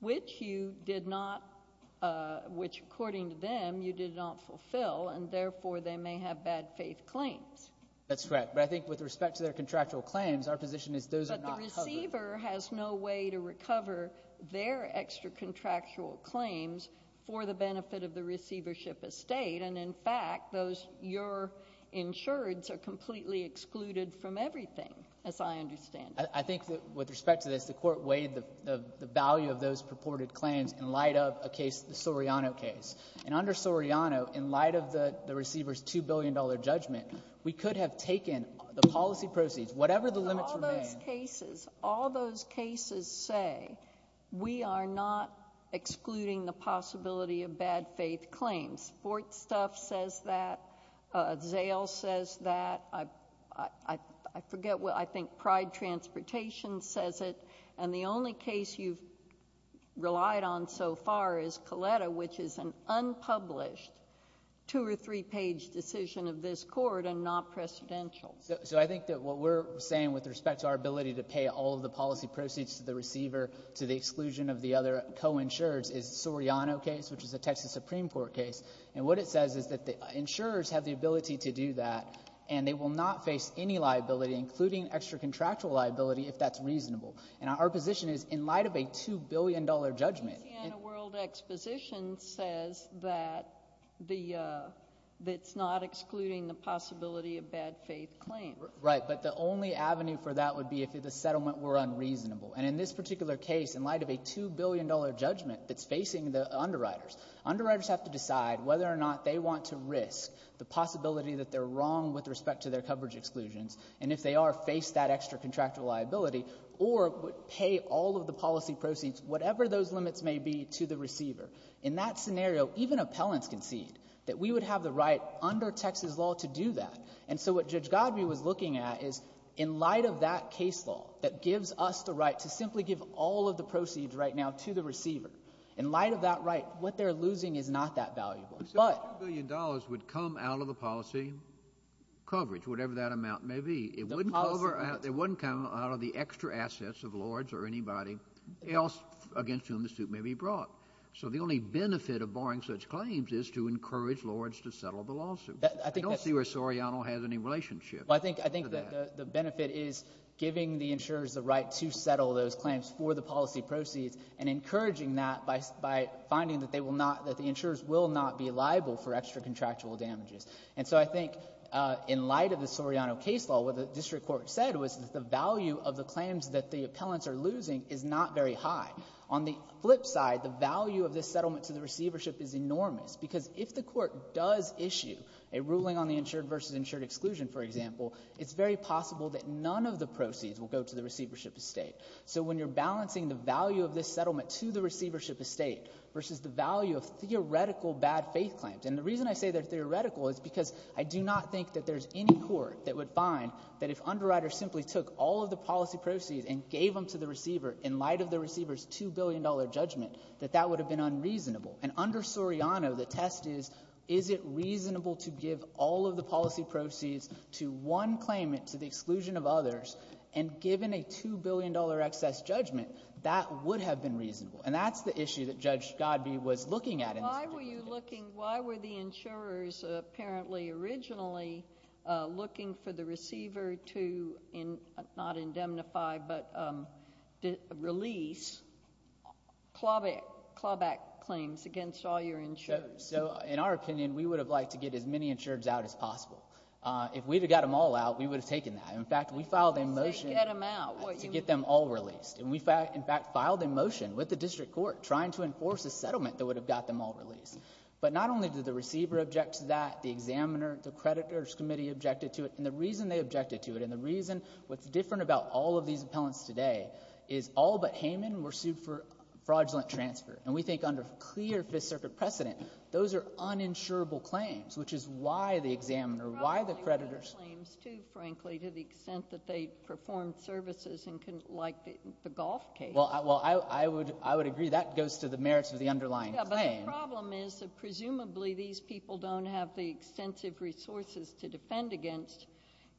which you did not—which, according to them, you did not fulfill, and therefore they may have bad faith claims. That's correct. But I think with respect to their contractual claims, our position is those are not covered. But the receiver has no way to recover their extra contractual claims for the benefit of the receivership estate. And in fact, those—your insureds are completely excluded from everything, as I understand. I think with respect to this, the Court weighed the value of those purported claims in light of a case—the Soriano case. And under Soriano, in light of the receiver's $2 billion judgment, we could have taken the policy proceeds, whatever the limits of their— All those cases—all those cases say we are not excluding the possibility of bad faith claims. Sportstuff says that. Zale says that. I forget what—I think Pride Transportation says it. And the only case you've relied on so far is Coletta, which is an unpublished two- or three-page decision of this Court and not precedential. So I think that what we're saying with respect to our ability to pay all of the policy proceeds to the receiver to the exclusion of the other co-insureds is Soriano case, which is a Texas Supreme Court case. And what it says is that the insurers have the ability to do that, and they will not face any liability, including extra contractual liability, if that's reasonable. And our position is, in light of a $2 billion judgment— Indiana World Exposition says that the—that it's not excluding the possibility of bad faith claims. Right. But the only avenue for that would be if the settlement were unreasonable. And in this particular case, in light of a $2 billion judgment that's facing the underwriters, underwriters have to decide whether or not they want to risk the possibility that they're wrong with respect to their coverage exclusions, and if they are, face that extra contractual liability, or pay all of the policy proceeds, whatever those limits may be, to the receiver. In that scenario, even appellants concede that we would have the right under Texas law to do that. And so what Judge Goddard was looking at is, in light of that case law that gives us the right to simply give all of the proceeds right now to the receiver, in light of that right, what they're losing is not that valuable. $2 billion would come out of the policy coverage, whatever that amount may be. It wouldn't come out of the extra assets of Lords or anybody else against whom the suit may be brought. So the only benefit of barring such claims is to encourage Lords to settle the lawsuit. I don't see where Soriano has any relationship to that. Well, I think the benefit is giving the insurers the right to settle those claims for the policy proceeds, and encouraging that by finding that they will not, that the insurers will not be liable for extra contractual damages. And so I think in light of the Soriano case law, what the district court said was the value of the claims that the appellants are losing is not very high. On the flip side, the value of this settlement to the receivership is enormous, because if the court does issue a ruling on the insured versus insured exclusion, for example, it's very possible that none of the proceeds will go to the receivership estate. So when you're balancing the value of this settlement to the receivership estate versus the value of theoretical bad faith claims, and the reason I say they're theoretical is because I do not think that there's any court that would find that if Underwriter simply took all of the policy proceeds and gave them to the receiver in light of the receiver's $2 billion judgment, that that would have been unreasonable. And under Soriano, the test is, is it reasonable to give all of the policy proceeds to one claimant to the exclusion of others, and given a $2 billion excess judgment, that would have been reasonable? And that's the issue that Judge Godbee was looking at. Why were you looking, why were the insurers apparently originally looking for the receiver to, not indemnify, but release clawback claims against all your insurers? So in our opinion, we would have liked to get as many insurers out as possible. If we would have got them all out, we would have taken that. In fact, we filed a motion to get them all released. And we, in fact, filed a motion with the district court trying to enforce a settlement that would have got them all released. But not only did the receiver object to that, the examiner, the creditors committee objected to it. And the reason they objected to it, and the reason what's different about all of these appellants today, is all but Hayman were sued for fraudulent transfer. And we think under clear Fifth Circuit precedent, those are uninsurable claims, which is why the examiner, why the creditors. But the problem with the claims, too, frankly, to the extent that they perform services and can, like the golf case. Well, I, well, I would, I would agree that goes to the merits of the underlying claim. Yeah, but the problem is that presumably these people don't have the extensive resources to defend against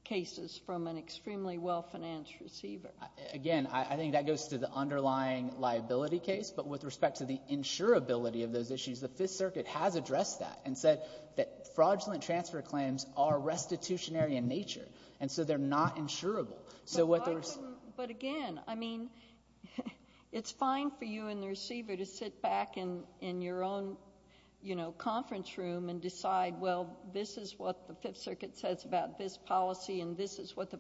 cases from an extremely well-financed receiver. Again, I, I think that goes to the underlying liability case. But with respect to the insurability of those issues, the Fifth Circuit has addressed that and said that fraudulent transfer claims are restitutionary in nature. And so they're not insurable. So what they're. But again, I mean, it's fine for you and the receiver to sit back in, in your own, you know, courtroom and decide, well, this is what the Fifth Circuit says about this policy and this is what the,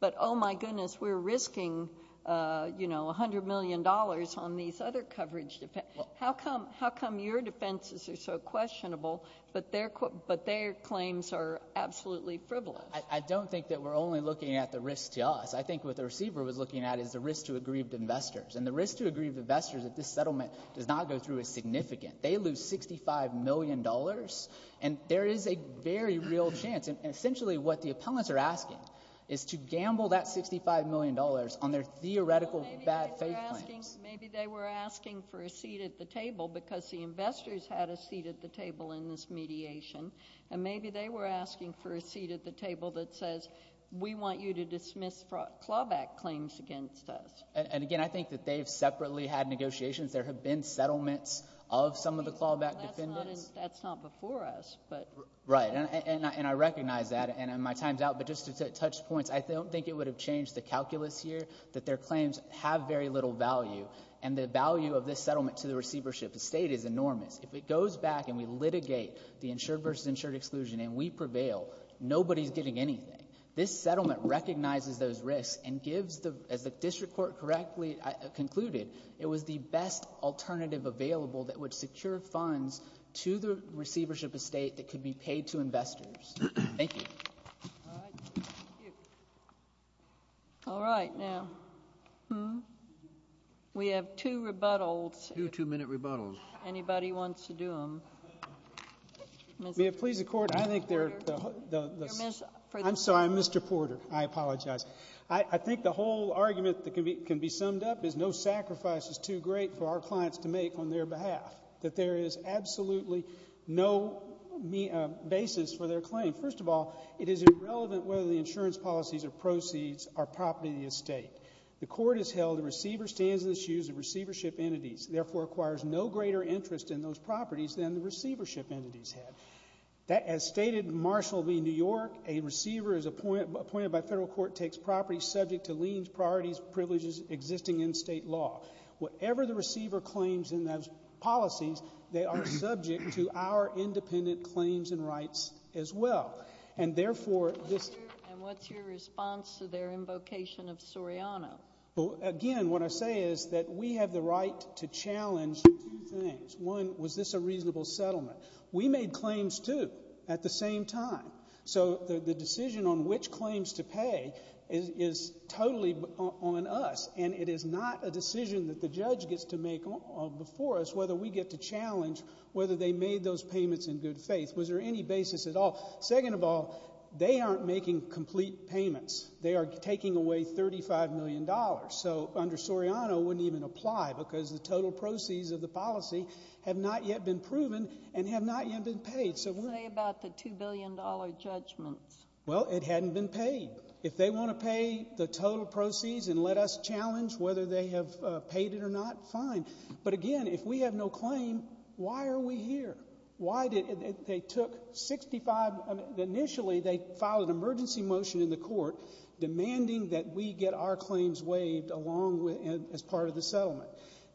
but oh my goodness, we're risking, you know, $100 million on these other coverage defense. How come, how come your defenses are so questionable, but their, but their claims are absolutely frivolous? I don't think that we're only looking at the risk to us. I think what the receiver was looking at is the risk to aggrieved investors and the risk to aggrieved investors that this settlement does not go through as significant. They lose $65 million and there is a very real chance. And essentially what the appellants are asking is to gamble that $55 million on their theoretical bad case plan. Maybe they were asking for a seat at the table because the investors had a seat at the table in this mediation. And maybe they were asking for a seat at the table that says, we want you to dismiss clawback claims against us. And again, I think that they've separately had negotiations. There have been settlements of some of the clawback defendants. That's not before us, but. Right. And I recognize that and my time's out, but just to touch points, I don't think it would have changed the calculus here that their claims have very little value. And the value of this settlement to the receivership, the state is enormous. If it goes back and we litigate the insured versus insured exclusion and we prevail, nobody's getting anything. This settlement recognizes those risks and gives the, as the district court correctly concluded, it was the best alternative available that would secure funds to the receivership estate that could be paid to investors. Thank you. All right, now we have two rebuttals, two minute rebuttals, anybody wants to do them? Please, the court. I think they're the I'm sorry, Mr. Porter, I apologize. I think the whole argument that can be summed up is no sacrifice is too great for our clients to make on their behalf, that there is absolutely no basis for their claim. First of all, it is irrelevant whether the insurance policies or proceeds are property of the estate. The court has held the receiver stands in the shoes of receivership entities, therefore requires no greater interest in those properties than the receivership entities have. As stated, Marshall v. New York, a receiver is appointed by federal court, takes property subject to liens, priorities, privileges existing in state law. Whatever the receiver claims in those policies, they are subject to our independent claims and rights as well. And therefore, this And what's your response to their invocation of Soriano? Again, what I say is that we have the right to challenge two things. One, was this a reasonable settlement? We made claims too, at the same time. So the decision on which claims to pay is totally on us, and it is not a decision that the judge gets to make before us whether we get to challenge whether they made those payments in good faith. Was there any basis at all? Second of all, they aren't making complete payments. They are taking away $35 million, so under Soriano wouldn't even apply because the total was proven and had not yet been paid. So what do you say about the $2 billion judgment? Well, it hadn't been paid. If they want to pay the total proceeds and let us challenge whether they have paid it or not, fine. But again, if we have no claim, why are we here? Why did they take $65, initially they filed an emergency motion in the court demanding that we get our claims waived along with, as part of the settlement.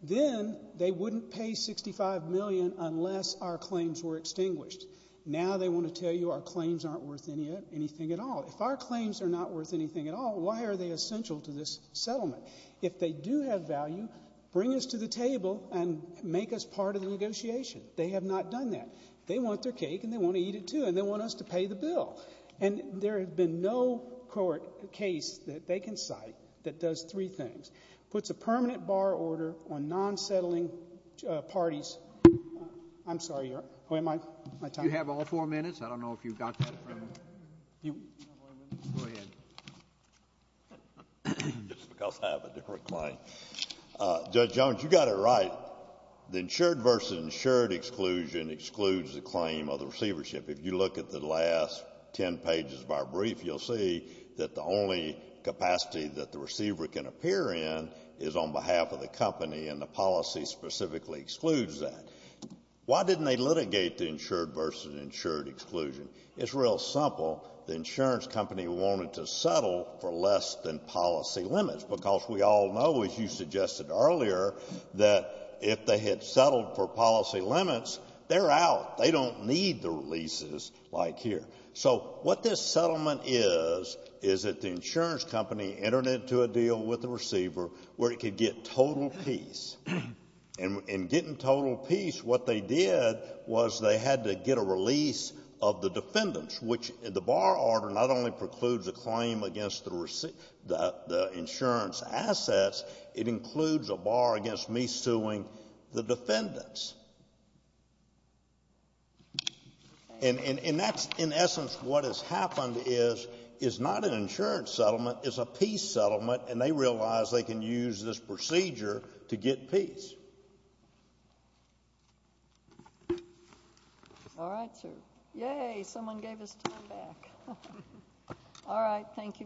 Then, they wouldn't pay $65 million unless our claims were extinguished. Now they want to tell you our claims aren't worth anything at all. If our claims are not worth anything at all, why are they essential to this settlement? If they do have value, bring us to the table and make us part of the negotiation. They have not done that. They want their cake and they want to eat it too, and they want us to pay the bill. And there has been no court case that they can cite that does three things. Puts a permanent bar order on non-settling parties. I'm sorry, where am I? You have all four minutes, I don't know if you've got that. Go ahead. This is because I have a different claim. Judge Jones, you got it right, the insured versus insured exclusion excludes the claim of the receivership. If you look at the last ten pages of our brief, you'll see that the only capacity that the is on behalf of the company and the policy specifically excludes that. Why didn't they litigate the insured versus the insured exclusion? It's real simple. The insurance company wanted to settle for less than policy limits because we all know, as you suggested earlier, that if they had settled for policy limits, they're out. They don't need the releases like here. So what this settlement is, is that the insurance company entered into a deal with the receiver where it could get total peace. And getting total peace, what they did was they had to get a release of the defendants, which the bar order not only precludes a claim against the insurance assets, it includes a bar against me suing the defendants. And that's, in essence, what has happened is it's not an insurance settlement, it's a peace settlement, and they realize they can use this procedure to get peace. All right, sir. Yay, someone gave us time back. All right, thank you very much.